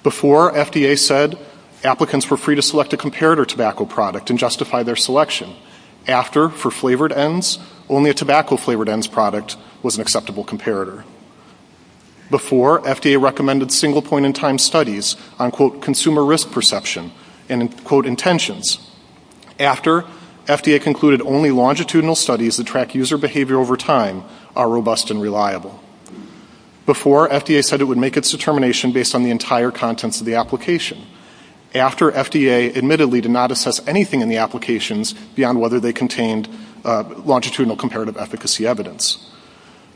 Before, FDA said applicants were free to select a comparator tobacco product and justify their selection. After, for flavored ENDS, only a tobacco flavored ENDS product was an acceptable comparator. Before, FDA recommended single point in time studies on, quote, consumer risk perception and, quote, intentions. After, FDA concluded only longitudinal studies that track user behavior over time are robust and reliable. Before, FDA said it would make its determination based on the entire contents of the application. After, FDA admittedly did not assess anything in the applications beyond whether they contained longitudinal comparative efficacy evidence.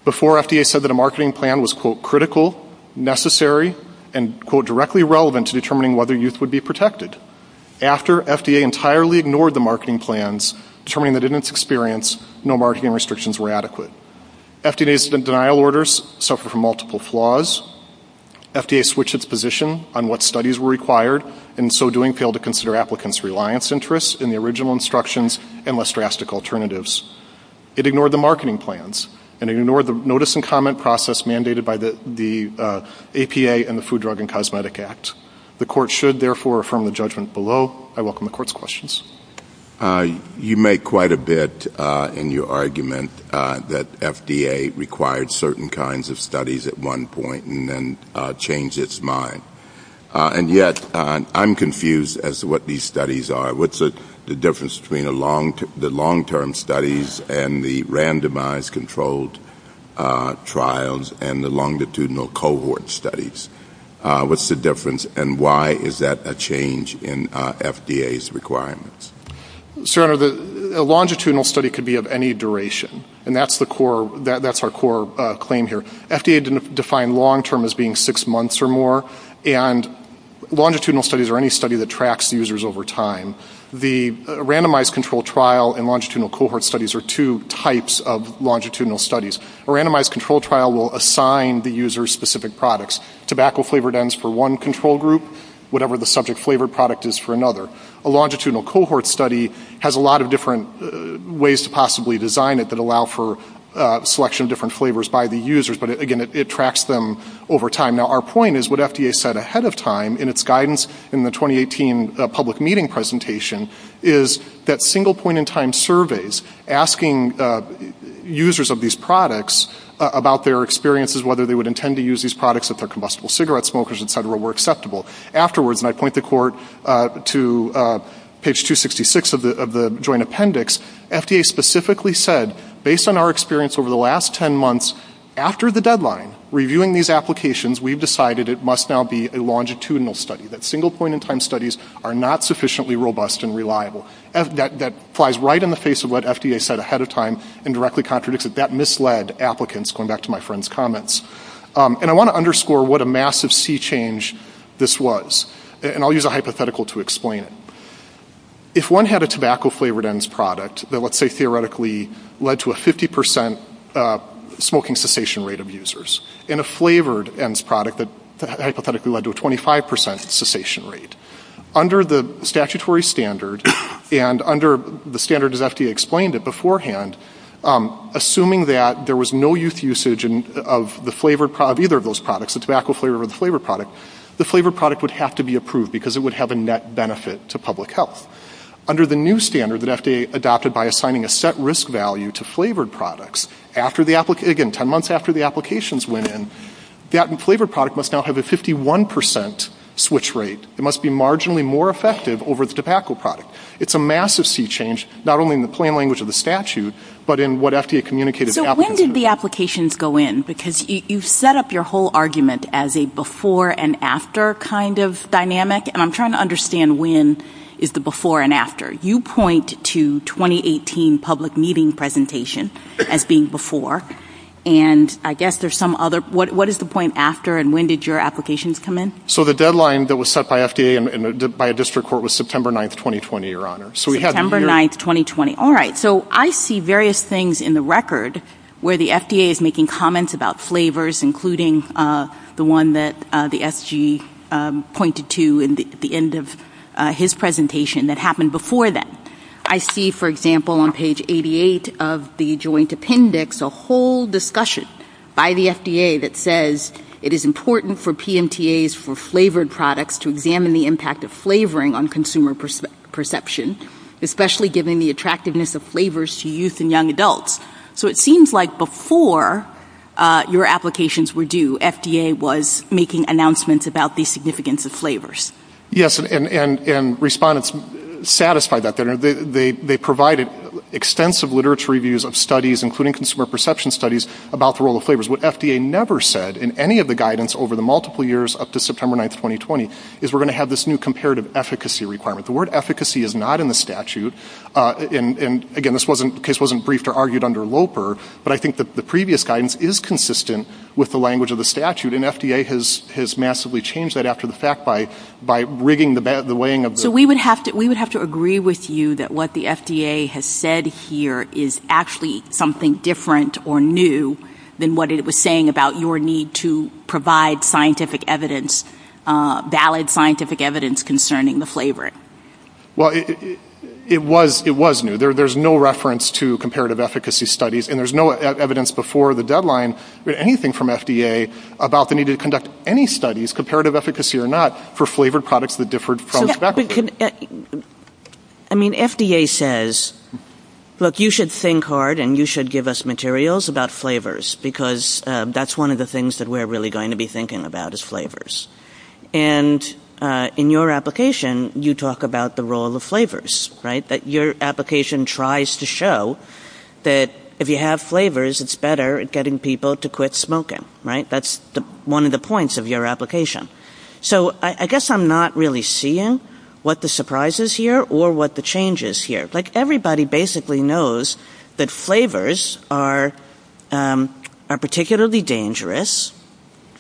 Before, FDA said that a marketing plan was, quote, critical, necessary, and, quote, directly relevant to determining whether youth would be protected. After, FDA entirely ignored the marketing plans, determining that in its experience, no marketing restrictions were adequate. FDA's denial orders suffered from multiple flaws. FDA switched its position on what studies were required, and in so doing, failed to consider applicants' reliance interests in the original instructions and less drastic alternatives. It ignored the marketing plans and ignored the notice and comment process mandated by the APA and the Food, Drug, and Cosmetic Act. The Court should, therefore, affirm the judgment below. I welcome the Court's questions. You make quite a bit in your argument that FDA required certain kinds of studies at one point and then changed its mind. And yet, I'm confused as to what these studies are. What's the difference between the long-term studies and the randomized controlled trials and the longitudinal cohort studies? What's the difference, and why is that a change in FDA's requirements? Sir, a longitudinal study could be of any duration, and that's our core claim here. FDA defined long-term as being six months or more, and longitudinal studies are any study that tracks users over time. The randomized controlled trial and longitudinal cohort studies are two types of longitudinal studies. A randomized controlled trial will assign the user specific products. Tobacco flavored ends for one control group, whatever the subject flavored product is for another. A longitudinal cohort study has a lot of different ways to design it that allow for selection of different flavors by the users, but again, it tracks them over time. Now, our point is what FDA said ahead of time in its guidance in the 2018 public meeting presentation is that single point-in-time surveys asking users of these products about their experiences, whether they would intend to use these products if they're combustible cigarette smokers, et cetera, were acceptable. Afterwards, and I point the Court to page 266 of the joint appendix, FDA specifically said, based on our experience over the last 10 months, after the deadline, reviewing these applications, we decided it must now be a longitudinal study, that single point-in-time studies are not sufficiently robust and reliable. That flies right in the face of what FDA said ahead of time and directly contradicts it. That misled applicants, going back to my friend's comments. And I want to underscore what a massive sea change this was. And I'll use a hypothetical to explain it. If one had a tobacco-flavored ENDS product that let's say theoretically led to a 50% smoking cessation rate of users, and a flavored ENDS product that hypothetically led to a 25% cessation rate, under the statutory standard and under the standard as FDA explained it beforehand, assuming that there was no youth of the flavored product, either of those products, the tobacco flavor or the flavored product, the flavored product would have to be approved because it would have a net benefit to public health. Under the new standard that FDA adopted by assigning a set risk value to flavored products, 10 months after the applications went in, the flavored product must now have a 51% switch rate. It must be marginally more effective over the tobacco product. It's a massive sea change, not only in the plain language of the statute, but in what FDA communicated. When did the applications go in? Because you've set up your whole argument as a before and after kind of dynamic. And I'm trying to understand when is the before and after. You point to 2018 public meeting presentation as being before. And I guess there's some other... What is the point after and when did your applications come in? So the deadline that was set by FDA and by a district court was September 9th, 2020, Your Honor. September 9th, 2020. All right. I see various things in the record where the FDA is making comments about flavors, including the one that the SG pointed to at the end of his presentation that happened before that. I see, for example, on page 88 of the joint appendix, a whole discussion by the FDA that says it is important for PMTAs for flavored products to examine the impact of flavoring on consumer perceptions, especially given the attractiveness of flavors to youth and young adults. So it seems like before your applications were due, FDA was making announcements about the significance of flavors. Yes. And respondents satisfied that. They provided extensive literature reviews of studies, including consumer perception studies, about the role of flavors. What FDA never said in any of the guidance over the multiple years up to September 9th, 2020, is we're going to have this new comparative efficacy requirement. The word efficacy is not in the statute. And again, this case wasn't briefed or argued under LOPER, but I think the previous guidance is consistent with the language of the statute. And FDA has massively changed that after the fact by rigging the weighing of the... So we would have to agree with you that what the FDA has said here is actually something different or new than what it was saying about your need to provide scientific evidence, valid scientific evidence concerning the flavoring. Well, it was new. There's no reference to comparative efficacy studies, and there's no evidence before the deadline or anything from FDA about the need to conduct any studies, comparative efficacy or not, for flavored products that differed from... I mean, FDA says, look, you should think hard and you should give us materials about flavors, because that's one of the things that we're really going to be thinking about is flavors. And in your application, you talk about the role of flavors, right? That your application tries to show that if you have flavors, it's better at getting people to quit smoking, right? That's one of the points of your application. So I guess I'm not really seeing what the surprise is here or what the change is here. Like everybody basically knows that flavors are particularly dangerous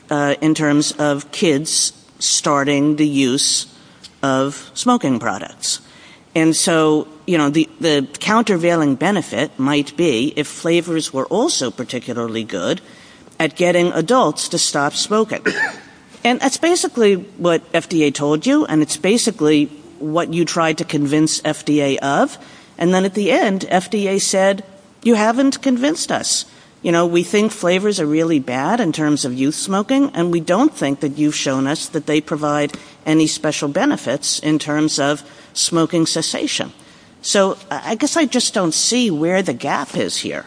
in terms of kids starting the use of smoking products. And so the countervailing benefit might be if flavors were also particularly good at getting adults to stop smoking. And that's basically what FDA told you, and it's basically what you tried to convince FDA of. And then at the end, FDA said, you haven't convinced us. We think flavors are really bad in terms of youth smoking, and we don't think that you've shown us that they provide any special benefits in terms of smoking cessation. So I guess I just don't see where the gap is here.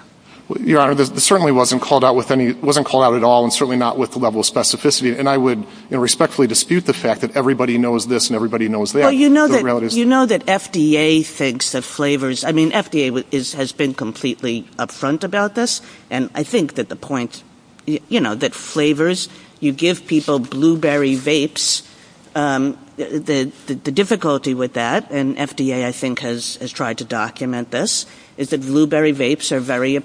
Your Honor, it certainly wasn't called out at all, and certainly not with the level of specificity. And I would respectfully dispute the fact that everybody knows this and everybody knows that. You know that FDA thinks that flavors, I mean, FDA has been completely upfront about this. And I think that the point, you know, that flavors, you give people blueberry vapes, the difficulty with that, and FDA I think has tried to document this, is that blueberry vapes are really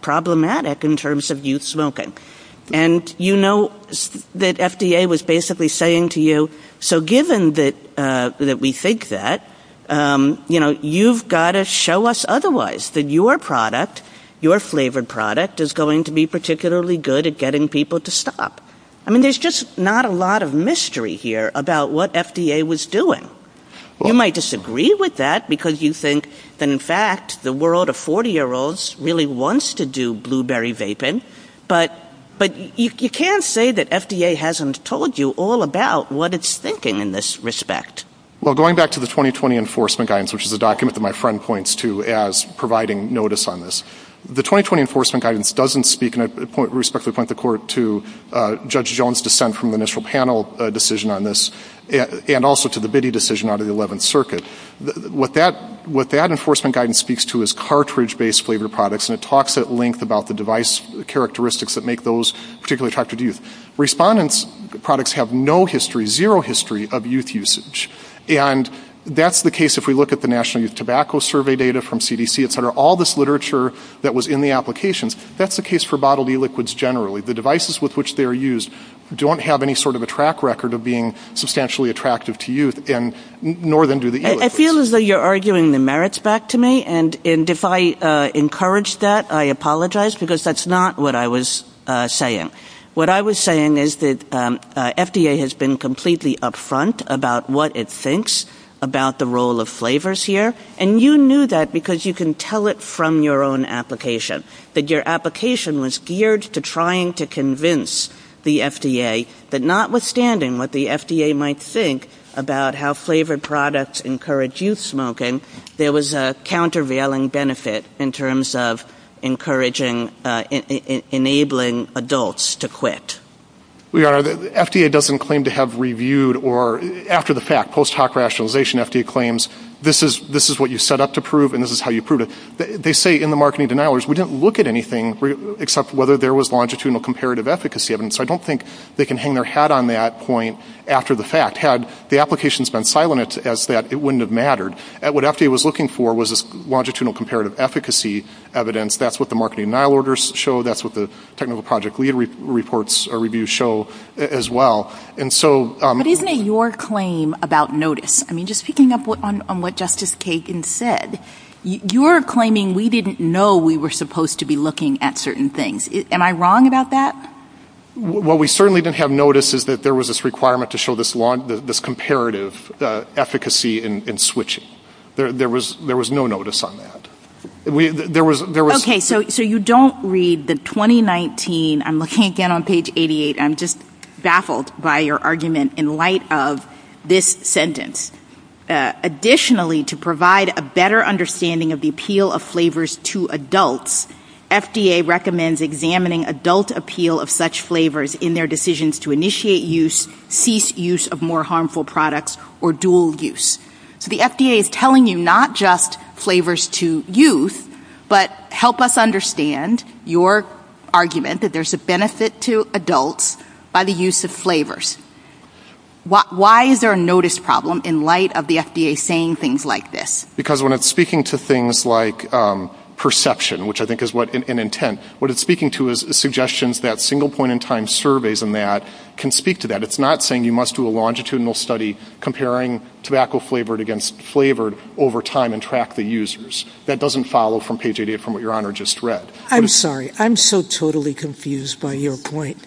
problematic in terms of youth smoking. And you know that FDA was basically saying to you, so given that we think that, you know, you've got to show us otherwise, that your product, your flavored product is going to be particularly good at getting people to stop. I mean, there's just not a lot of mystery here about what FDA was doing. You might disagree with that because you think that in fact, the world of 40-year-olds really wants to do blueberry vaping, but you can't say that FDA hasn't told you all about what it's thinking in this respect. Well, going back to the 2020 enforcement guidance, which is a document that my friend points to as providing notice on this, the 2020 enforcement guidance doesn't speak, and I respectfully point the court to Judge Jones' dissent from the initial panel decision on this, and also to the Bitty decision out of the 11th Circuit. What that enforcement guidance speaks to is cartridge-based flavored products, and it talks at length about the device characteristics that make those particularly attractive to youth. Respondents' products have no history, zero history of youth usage. And that's the case if we look at the National Youth Tobacco Survey data from CDC, et cetera, all this literature that was in the applications, that's the case for bodily liquids generally. The devices with which they're used don't have any sort of a track record of being substantially attractive to youth, nor do the e-liquids. I feel as though you're arguing the merits back to me, and if I encourage that, I apologize, because that's not what I was saying. What I was saying is that FDA has been completely upfront about what it thinks about the role of flavors here, and you knew that because you can tell it from your own application, that your application was geared to trying to convince the FDA that, notwithstanding what the FDA might think about how flavored products encourage youth smoking, there was a countervailing benefit in terms of encouraging, enabling adults to quit. FDA doesn't claim to have reviewed or, after the fact, post hoc rationalization, FDA claims, this is what you set up to prove, and this is how you prove it. They say in the marketing denialers, we didn't look at anything except whether there was longitudinal comparative efficacy evidence, so I don't think they can hang their hat on that point after the fact. Had the applications been silent as that, it wouldn't have mattered. What FDA was looking for was longitudinal comparative efficacy evidence. That's what the marketing denial orders show. That's what the technical project lead reports review show as well. But isn't it your claim about notice? I mean, just picking up on what Justice Kagan said, you're claiming we didn't know we were supposed to be looking at certain things. Am I wrong about that? What we certainly didn't have notice is that there was this requirement to show this comparative efficacy in switching. There was no notice on that. Okay. So you don't read the 2019, I'm looking again on page 88, I'm just baffled by your argument in light of this sentence. Additionally, to provide a better understanding of the appeal of flavors to adults, FDA recommends examining adult appeal of such flavors in their decisions to initiate use, cease use of more harmful products, or dual use. So the FDA is telling you not just flavors to use, but help us understand your argument that there's a benefit to adults by the use of flavors. Why is there a notice problem in light of the FDA saying things like Because when it's speaking to things like perception, which I think is what an intent, what it's speaking to is suggestions that single point in time surveys and that can speak to that. It's not saying you must do a longitudinal study comparing tobacco flavored against flavored over time and track the users. That doesn't follow from page 88 from what your honor just read. I'm sorry. I'm so totally confused by your point.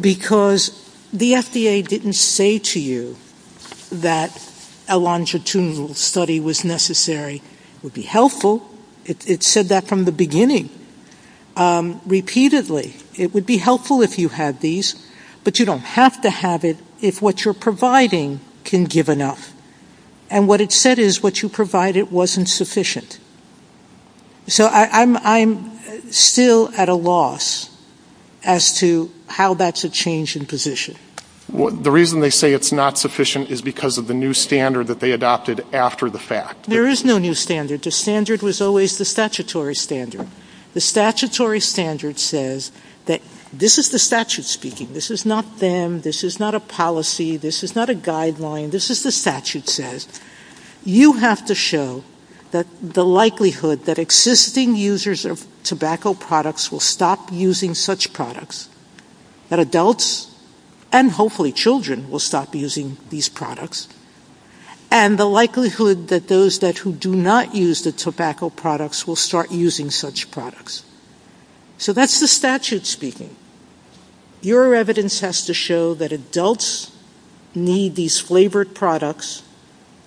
Because the FDA didn't say to you that a longitudinal study was necessary would be helpful. It said that from the beginning repeatedly. It would be helpful if you had these, but you don't have to have it if what you're providing can give enough. And what it said is what you provided wasn't sufficient. So I'm still at a loss as to how that's a change in position. The reason they say it's not sufficient is because of the new standard that they adopted after the fact. There is no new standard. The standard was always the statutory standard. The statutory standard says that this is the statute speaking. This is not them. This is not a policy. This is not a guideline. This is the statute says. You have to show that the likelihood that existing users of tobacco products will stop using such products, that adults and hopefully children will stop using these products, and the likelihood that those who do not use the tobacco products will start using such products. So that's the statute speaking. Your evidence has to show that adults need these flavored products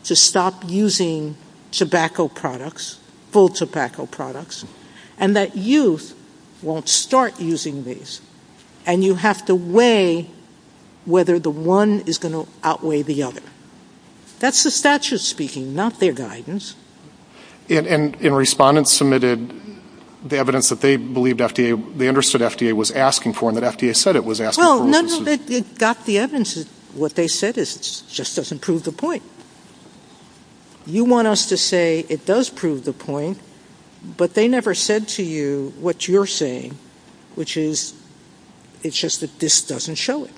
to stop using tobacco products, full tobacco products, and that youth won't start using these. And you have to weigh whether the one is going to outweigh the other. That's the statute speaking, not their guidance. And respondents submitted the evidence that they believed FDA, they understood FDA was asking for and that FDA said it was asking. Well, none of it got the evidence. What they said just doesn't prove the point. You want us to say it does prove the point, but they never said to you what you're saying, which is it's just that this doesn't show it.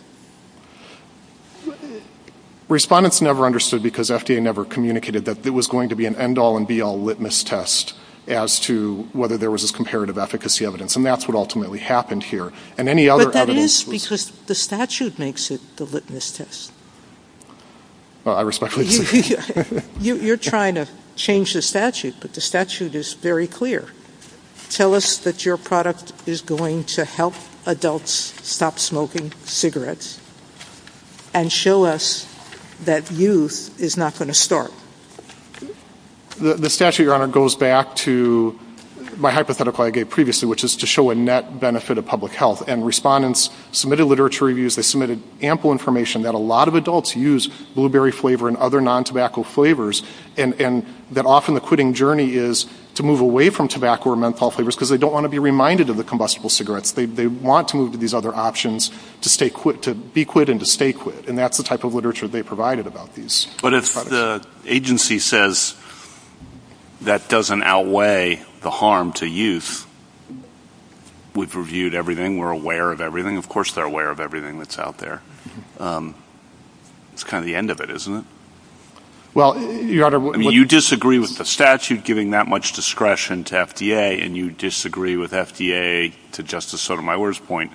Respondents never understood because FDA never communicated that it was going to be an end-all and be-all litmus test as to whether there was comparative efficacy evidence. And that's what ultimately happened here. But that is because the statute makes it the litmus test. You're trying to change the statute, but the statute is very clear. Tell us that your product is going to help adults stop smoking cigarettes, and show us that youth is not going to start. The statute, Your Honor, goes back to my hypothetical I gave previously, which is to show a net benefit of public health. And respondents submitted literature reviews, they submitted ample information that a lot of adults use blueberry flavor and other non-tobacco flavors, and that often the quitting journey is to move away from tobacco or menthol flavors because they don't want to be reminded of the combustible cigarettes. They want to move to these other options to be quit and to stay quit. And that's the type of literature they provided. The agency says that doesn't outweigh the harm to youth. We've reviewed everything, we're aware of everything. Of course, they're aware of everything that's out there. It's kind of the end of it, isn't it? Well, Your Honor, you disagree with the statute giving that much discretion to FDA, and you disagree with FDA, to Justice Sotomayor's point,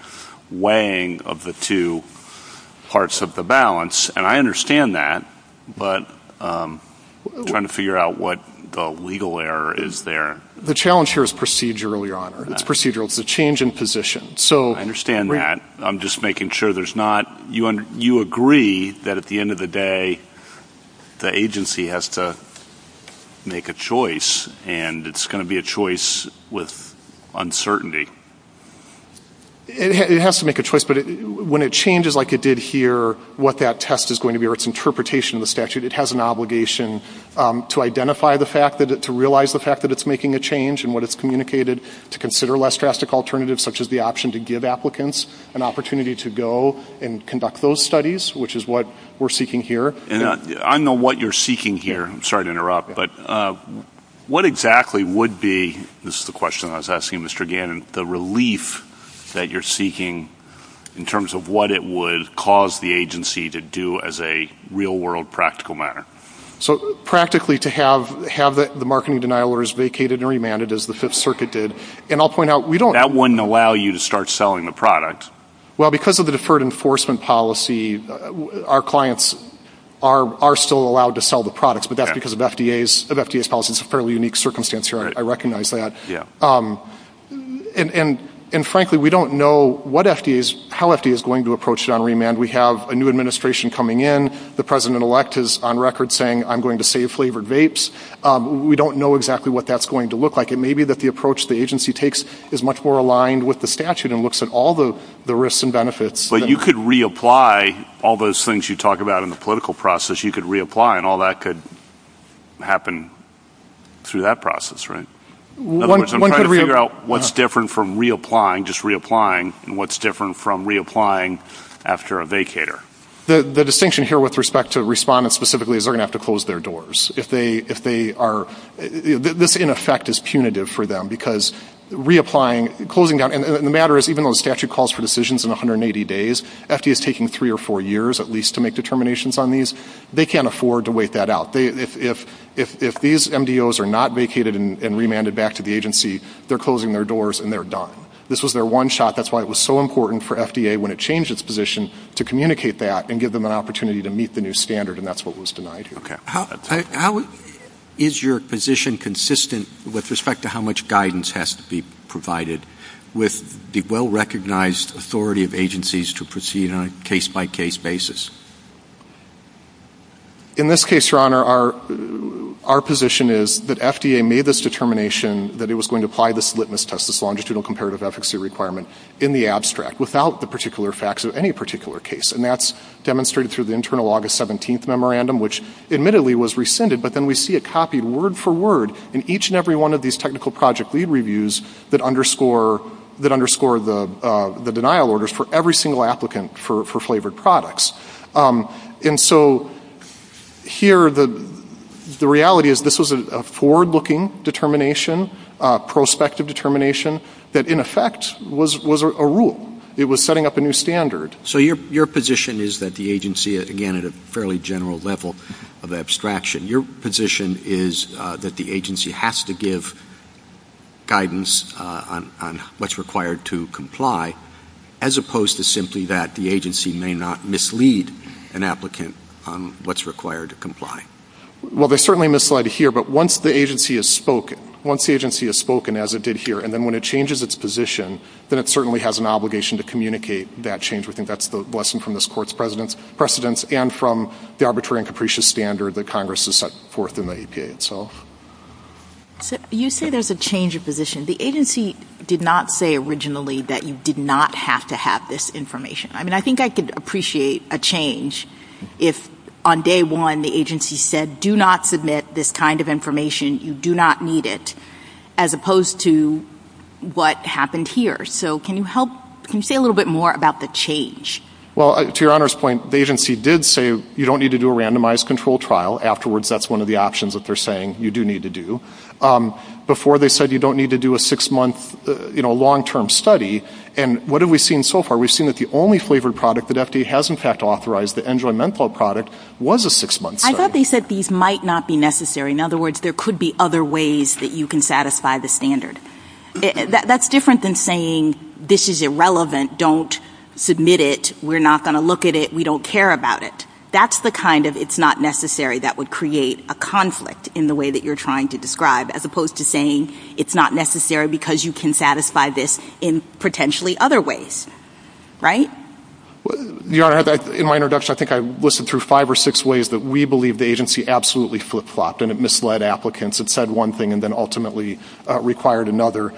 weighing of the two parts of the balance. And I understand that, but I'm trying to figure out what the legal error is there. The challenge here is procedurally, Your Honor. It's procedural. It's a change in position. I understand that. I'm just making sure there's not... You agree that at the end of the day, the agency has to make a choice, and it's going to be a choice with uncertainty. It has to make a choice, but when it changes like it did here, what that test is going to be or its interpretation of the statute, it has an obligation to identify the fact, to realize the fact that it's making a change and what it's communicated to consider less drastic alternatives, such as the option to give applicants an opportunity to go and conduct those studies, which is what we're seeking here. And I know what you're seeking here. I'm sorry to interrupt, but what exactly would be, this is the question I was asking Mr. Gannon, the relief that you're seeking in terms of what it would cause the agency to do as a real world practical matter? So practically to have the marketing denial orders vacated and remanded as the Fifth Circuit did, and I'll point out, we don't... That wouldn't allow you to start selling the product. Well, because of the deferred enforcement policy, our clients are still allowed to sell the products, but that's because of FDA's policy. It's a fairly unique circumstance here. I recognize that. And frankly, we don't know how FDA is going to approach it on remand. We have a new administration coming in. The president-elect is on record saying, I'm going to save flavored vapes. We don't know exactly what that's going to look like. It may be that the approach the agency takes is much more aligned with the statute and looks at all the risks and benefits. But you could reapply all those things you talk about in the political process. You could reapply and all that could happen through that process, right? I'm trying to figure out what's different from reapplying, just reapplying, and what's different from reapplying after a vacator. The distinction here with respect to respondents specifically is they're going to have to close their doors if they are... This, in effect, is punitive for them because reapplying, closing down... And the matter is, even though the statute calls for decisions in 180 days, FDA is taking three or four years, at least, to make determinations on these. They can't afford to wait that out. If these MDOs are not vacated and remanded back to the agency, they're closing their doors and they're done. This was their one shot. That's why it was so important for FDA, when it changed its position, to communicate that and give them an opportunity to meet the new standard, and that's what was denied. Okay. Is your position consistent with respect to how much guidance has to be provided with the well-recognized authority of agencies to proceed on a case-by-case basis? In this case, Your Honor, our position is that FDA made this determination that it was going to apply this litmus test, this longitudinal comparative efficacy requirement, in the without the particular facts of any particular case. And that's demonstrated through the internal August 17th memorandum, which admittedly was rescinded, but then we see a copy word for word in each and every one of these technical project lead reviews that underscore the denial orders for every single applicant for flavored products. And so here, the reality is this was a forward- it was setting up a new standard. So your position is that the agency, again at a fairly general level of abstraction, your position is that the agency has to give guidance on what's required to comply, as opposed to simply that the agency may not mislead an applicant on what's required to comply. Well, they're certainly misled here, but once the agency has spoken, once the agency has spoken, as it did here, and then when it changes its position, then it certainly has an obligation to communicate that change. We think that's the lesson from this Court's precedence, and from the arbitrary and capricious standard that Congress has set forth in the EPA itself. You say there's a change of position. The agency did not say originally that you did not have to have this information. I mean, I think I could appreciate a change if on day one, the agency said, do not submit this kind of information, you do not need it, as opposed to what happened here. So can you say a little bit more about the change? Well, to your Honor's point, the agency did say you don't need to do a randomized control trial. Afterwards, that's one of the options that they're saying you do need to do. Before, they said you don't need to do a six-month, you know, long-term study. And what have we seen so far? We've seen that the only flavored product that has, in fact, authorized the Android Menflo product was a six-month study. I thought they said these might not be necessary. In other words, there could be other ways that you can satisfy the standard. That's different than saying this is irrelevant, don't submit it, we're not going to look at it, we don't care about it. That's the kind of it's not necessary that would create a conflict in the way that you're trying to describe, as opposed to saying it's not necessary because you can satisfy this in potentially other ways, right? Your Honor, in my introduction, I think I listed through five or six ways that we believe the agency absolutely flip-flopped, and it misled applicants, it said one thing and then ultimately required another.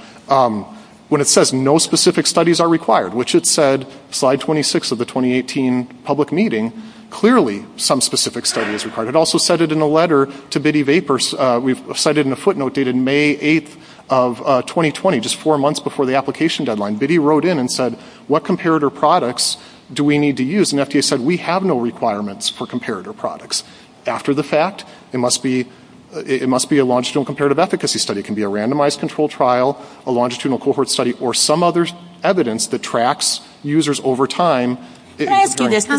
When it says no specific studies are required, which it said, slide 26 of the 2018 public meeting, clearly some specific study is required. It also said it in a letter to Biddy Vapors, we've cited in a footnote dated May 8th of 2020, just four months before the deadline, Biddy wrote in and said what comparator products do we need to use? And FDA said we have no requirements for comparator products. After the fact, it must be a longitudinal comparative efficacy study. It can be a randomized control trial, a longitudinal cohort study, or some other evidence that tracks users over time. Can I ask you this? The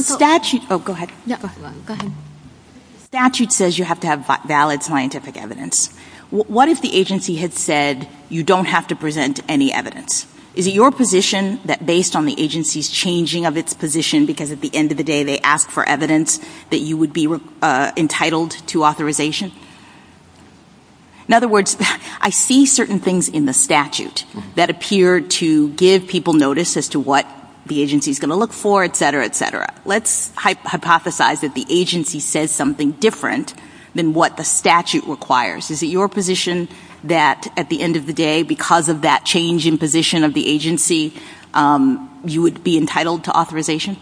statute says you have to have valid scientific evidence. What if the agency had said you don't have to present any evidence? Is it your position that based on the agency's changing of its position, because at the end of the day they ask for evidence, that you would be entitled to authorization? In other words, I see certain things in the statute that appear to give people notice as to what the agency is going to look for, et cetera, et cetera. Let's hypothesize that the agency says something different than what the statute requires. Is it your position that at the end of the day, because of that change in position of the agency, you would be entitled to authorization?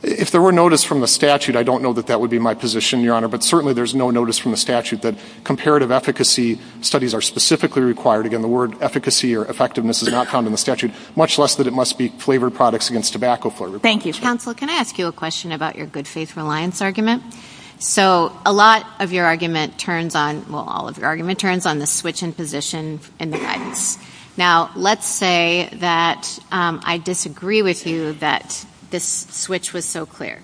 If there were notice from the statute, I don't know that that would be my position, Your Honor, but certainly there's no notice from the statute that comparative efficacy studies are specifically required. Again, the word efficacy or effectiveness is not found in the statute, much less that it must be flavored products against tobacco flavor. Thank you. Counsel, can I ask you a question about your good faith reliance argument? So a lot of your argument turns on, well, all of your argument turns on the switch in position in the right. Now, let's say that I disagree with you that this switch was so clear.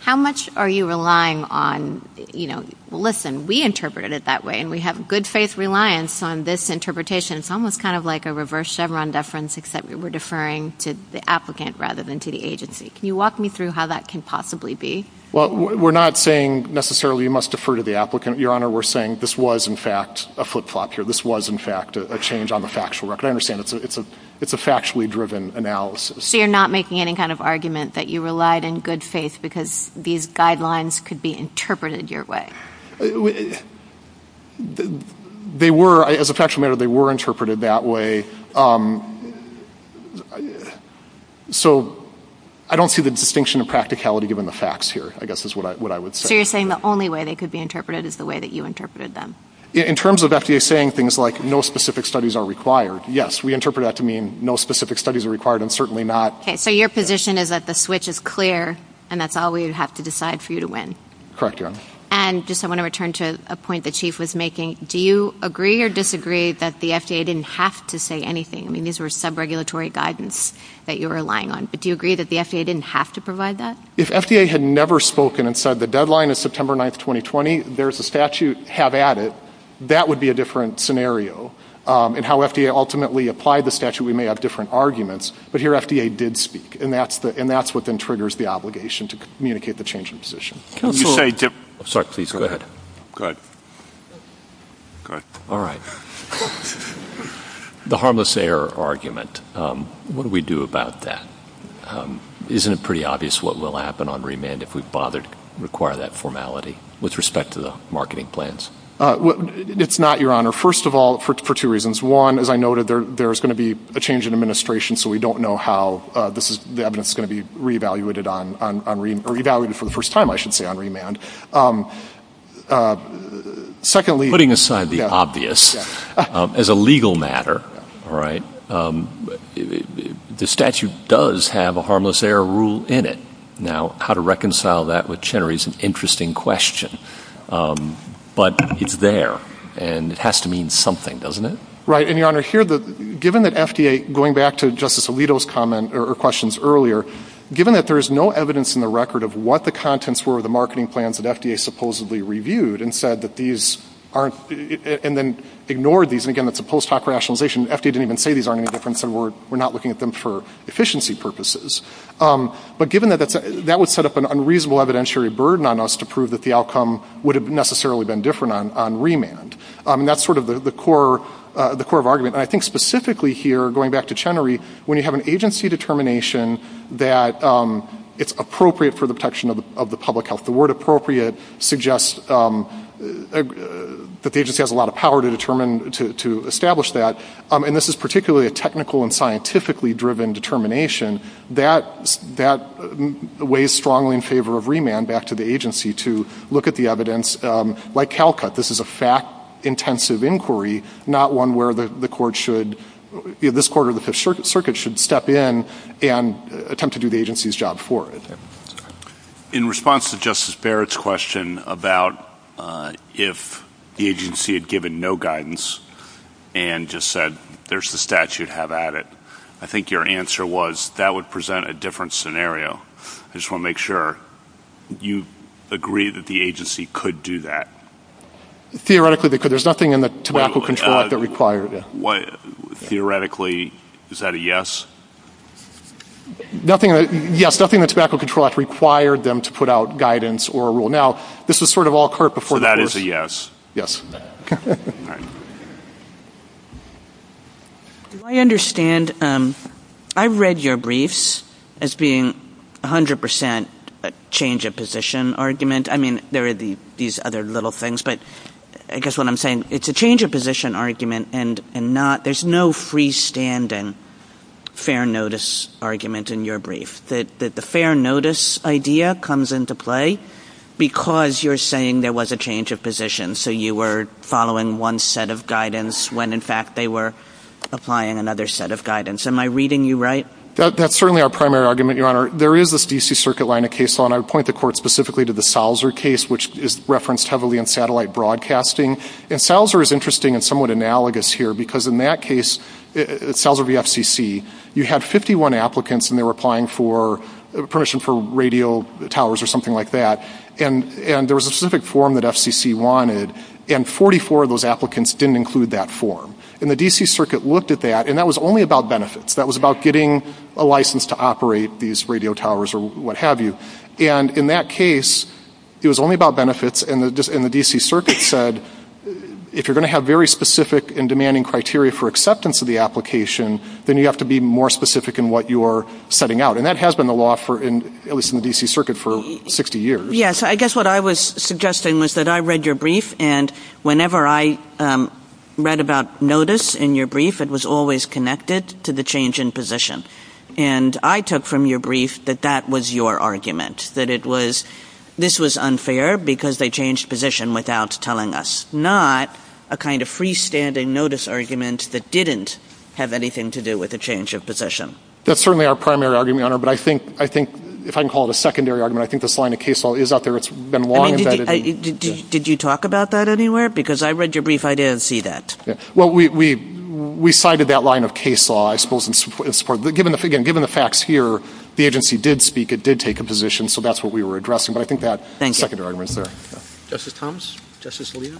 How much are you relying on, you know, listen, we interpreted it that way and we have good faith reliance on this interpretation. It's almost kind of like a reverse Chevron deference, except we're deferring to the applicant rather than to the agency. Can you walk me through how that can possibly be? Well, we're not saying necessarily you must defer to the applicant, Your Honor. We're saying this was in fact a flip-flop here. This was in fact a change on the factual record. I understand it's a factually driven analysis. So you're not making any kind of argument that you relied in good faith because these guidelines could be interpreted your way? They were, as a matter of fact, they were interpreted that way. So I don't see the distinction of practicality given the facts here, I guess is what I would say. So you're saying the only way they could be interpreted is the way that you interpreted them? In terms of FDA saying things like no specific studies are required. Yes, we interpret that to mean no specific studies are required and certainly not. So your position is that the switch is clear and that's all we have to decide for you to win? Correct, Your Honor. And just I want to return to a point the chief was making. Do you agree or disagree that the FDA didn't have to say anything? I mean, these were sub-regulatory guidance that you were relying on, but do you agree that the FDA didn't have to provide that? If FDA had never spoken and said the deadline is September 9th, 2020, there's a statute, have at it, that would be a different scenario. And how FDA ultimately applied the statute, we may have different arguments, but here FDA did speak and that's what then triggers the obligation to communicate the change in position. Can you say, sorry, please go ahead. Go ahead. Go ahead. All right. The harmless error argument, what do we do about that? Isn't it pretty obvious what will happen on remand if we bother to require that formality with respect to the marketing plans? It's not, Your Honor. First of all, for two reasons. One, as I noted, there's going to be a change in administration, so we don't know how this is going to be re-evaluated for the first time, I should say, on remand. Secondly... Putting aside the obvious, as a legal matter, the statute does have a harmless error rule in it. Now, how to reconcile that with Chenery is an interesting question, but it's there and it has to mean something, doesn't it? Right. And Your Honor, given that FDA, going back to Justice Alito's comment or questions earlier, given that there is no evidence in the record of what the contents were of the marketing plans that FDA supposedly reviewed and said that these aren't... And then ignored these, and again, that's a post hoc rationalization. FDA didn't even say these aren't any different, so we're not looking at them for efficiency purposes. But given that, that would set up an unreasonable evidentiary burden on us to prove that the outcome would have necessarily been different on remand. And that's sort of the core of argument. And I think specifically here, going back to Chenery, when you have an agency determination that it's appropriate for the protection of the public health, the word appropriate suggests that the agency has a lot of power to establish that. And this is particularly a technical and scientifically driven determination. That weighs strongly in favor of remand back to the agency to look at the evidence. Like CalCut, this is a fact-intensive inquiry, not one where the court should... This court or the Fifth Circuit should step in and attempt to do the agency's job for it. In response to Justice Barrett's question about if the agency had given no guidance and just said, there's the statute, have at it, I think your answer was that would present a different scenario. I just want to make sure you agree that the agency could do that. Theoretically, they could. There's nothing in the tobacco control act that required it. Theoretically, is that a yes? Yes. Nothing in the tobacco control act required them to put out guidance or a rule. Now, this is sort of all clear before... So that is a yes. I understand. I've read your briefs as being 100% change of position argument. I mean, there are these other little things, but I guess what I'm saying, it's a change of position argument and not... There's no freestanding fair notice argument in your brief. The fair notice idea comes into play because you're saying there was a change of position. So you were following one set of guidance when in fact they were applying another set of guidance. Am I reading you right? That's certainly our primary argument, Your Honor. There is this DC Circuit line of case law, and I would point the court specifically to the Salzer case, which is referenced heavily in satellite broadcasting. And Salzer is interesting and somewhat analogous here because in that case, Salzer v. FCC, you had 51 applicants and they were applying for permission for radio towers or something like that. And there was a specific form that FCC wanted, and 44 of those applicants didn't include that form. And the DC Circuit looked at that, and that was only about benefits. That was about getting a license to operate these radio towers or what have you. And in that case, it was only about benefits, and the DC Circuit said, if you're going to have very specific and demanding criteria for acceptance of the application, then you have to be more specific in what you're setting out. And that has been the law at least in the DC Circuit for 60 years. Yes. I guess what I was suggesting was that I read your brief, and whenever I read about notice in your brief, it was always connected to the change in position. And I took from your brief that that was your argument, that this was unfair because they changed position without telling us, not a kind of freestanding notice argument that didn't have anything to do with the change of position. That's certainly our primary argument, Your Honor, but I think, if I can call it a secondary argument, I think this line of case law is out there. It's been long vetted. Did you talk about that anywhere? Because I read your brief, I did see that. Well, we cited that line of case law, I suppose, in support. But again, given the facts here, the agency did speak, it did take a position, so that's what we were addressing. But I think that's a secondary argument there. Justice Thomas? Justice Alito?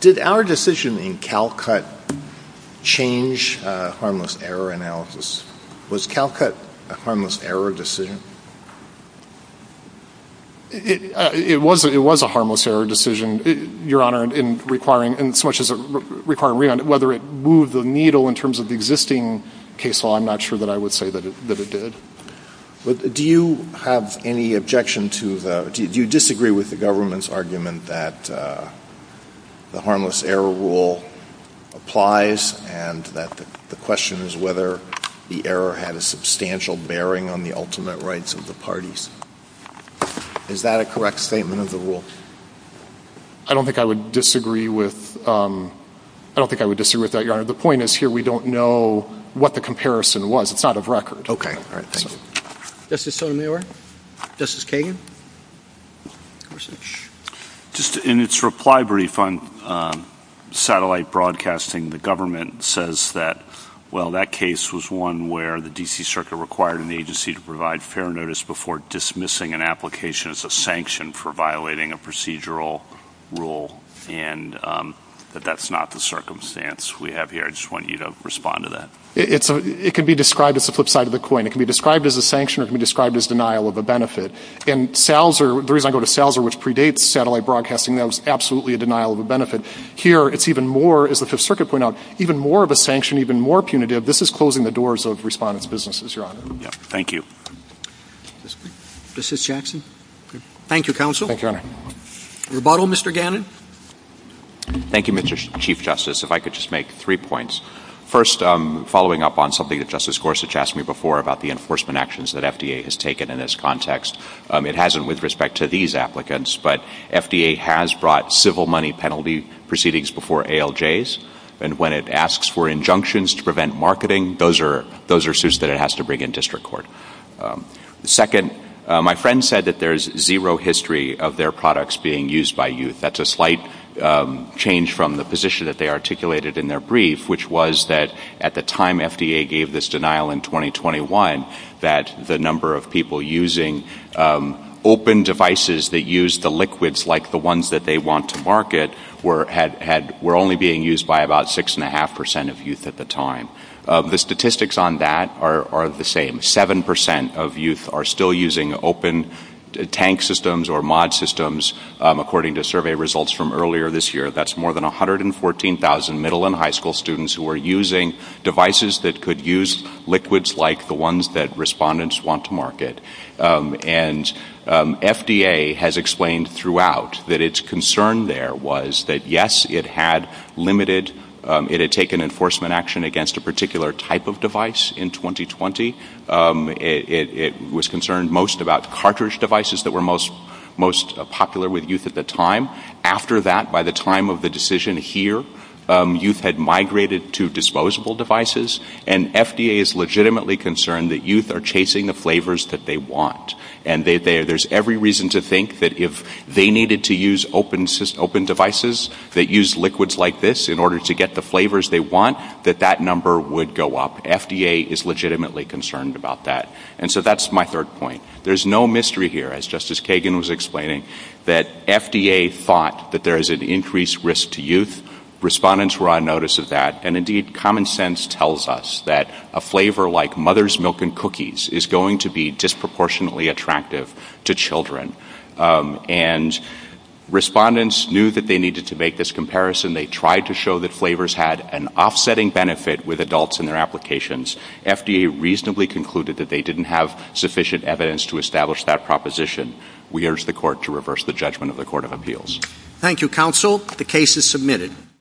Did our decision in CALCUT change harmless error analysis? Was CALCUT a harmless error decision? It was a harmless error decision, Your Honor, in so much as requiring whether it moved the needle in terms of existing case law. I'm not sure that I would say that it did. Do you have any objection to the—do you disagree with the government's argument that the harmless error rule applies and that the question is whether the error had a substantial bearing on the ultimate rights of the parties? Is that a correct statement of the rule? I don't think I would disagree with—I don't think I would disagree with that, Your Honor. The point is here we don't know what the comparison was. It's out of record. Okay. All right. Thank you. Justice Sotomayor? Justice Kagan? Just in its reply brief on satellite broadcasting, the government says that, well, that case was one where the D.C. Circuit required an agency to provide fair notice before dismissing an application as a sanction for violating a procedural rule, and that that's not the circumstance we have here. I just want you to respond to that. It can be described as the flip side of the coin. It can be described as a sanction or it can be described as denial of a benefit. And SALSR—the reason I go to SALSR, which predates satellite broadcasting, that was absolutely a denial of a benefit. Here it's even more, as the Fifth Amendment, this is closing the doors of respondents' businesses, Your Honor. Thank you. This is Jackson. Thank you, counsel. Thank you, Your Honor. Rebuttal, Mr. Gannon? Thank you, Mr. Chief Justice. If I could just make three points. First, following up on something that Justice Gorsuch asked me before about the enforcement actions that FDA has taken in this context, it hasn't with respect to these applicants, but FDA has brought civil money proceedings before ALJs, and when it asks for injunctions to prevent marketing, those are suits that it has to bring in district court. Second, my friend said that there's zero history of their products being used by youth. That's a slight change from the position that they articulated in their brief, which was that at the time FDA gave this denial in 2021, that the number of people using open devices that use the liquids like the ones that they want to market were only being used by about 6.5 percent of youth at the time. The statistics on that are the same. Seven percent of youth are still using open tank systems or mod systems, according to survey results from earlier this year. That's more than 114,000 middle and high school students who are using devices that could use liquids like the ones that respondents want to market. And FDA has explained throughout that its concern there was that yes, it had limited, it had taken enforcement action against a particular type of device in 2020. It was concerned most about cartridge devices that were most popular with youth at the time. After that, by the time of the decision here, youth had migrated to disposable devices, and FDA is legitimately concerned that youth are chasing the flavors that they want. And there's every reason to think that if they needed to use open devices that use liquids like this in order to get the flavors they want, that that number would go up. FDA is legitimately concerned about that. And so that's my third point. There's no mystery here, as Justice Kagan was explaining, that FDA thought that there is an increased risk to youth. Respondents were on of that. And indeed, common sense tells us that a flavor like Mother's Milk and Cookies is going to be disproportionately attractive to children. And respondents knew that they needed to make this comparison. They tried to show that flavors had an offsetting benefit with adults in their applications. FDA reasonably concluded that they didn't have sufficient evidence to establish that proposition. We urge the Court to reverse the judgment of the Court of Appeals. Thank you, Counsel. The case is submitted.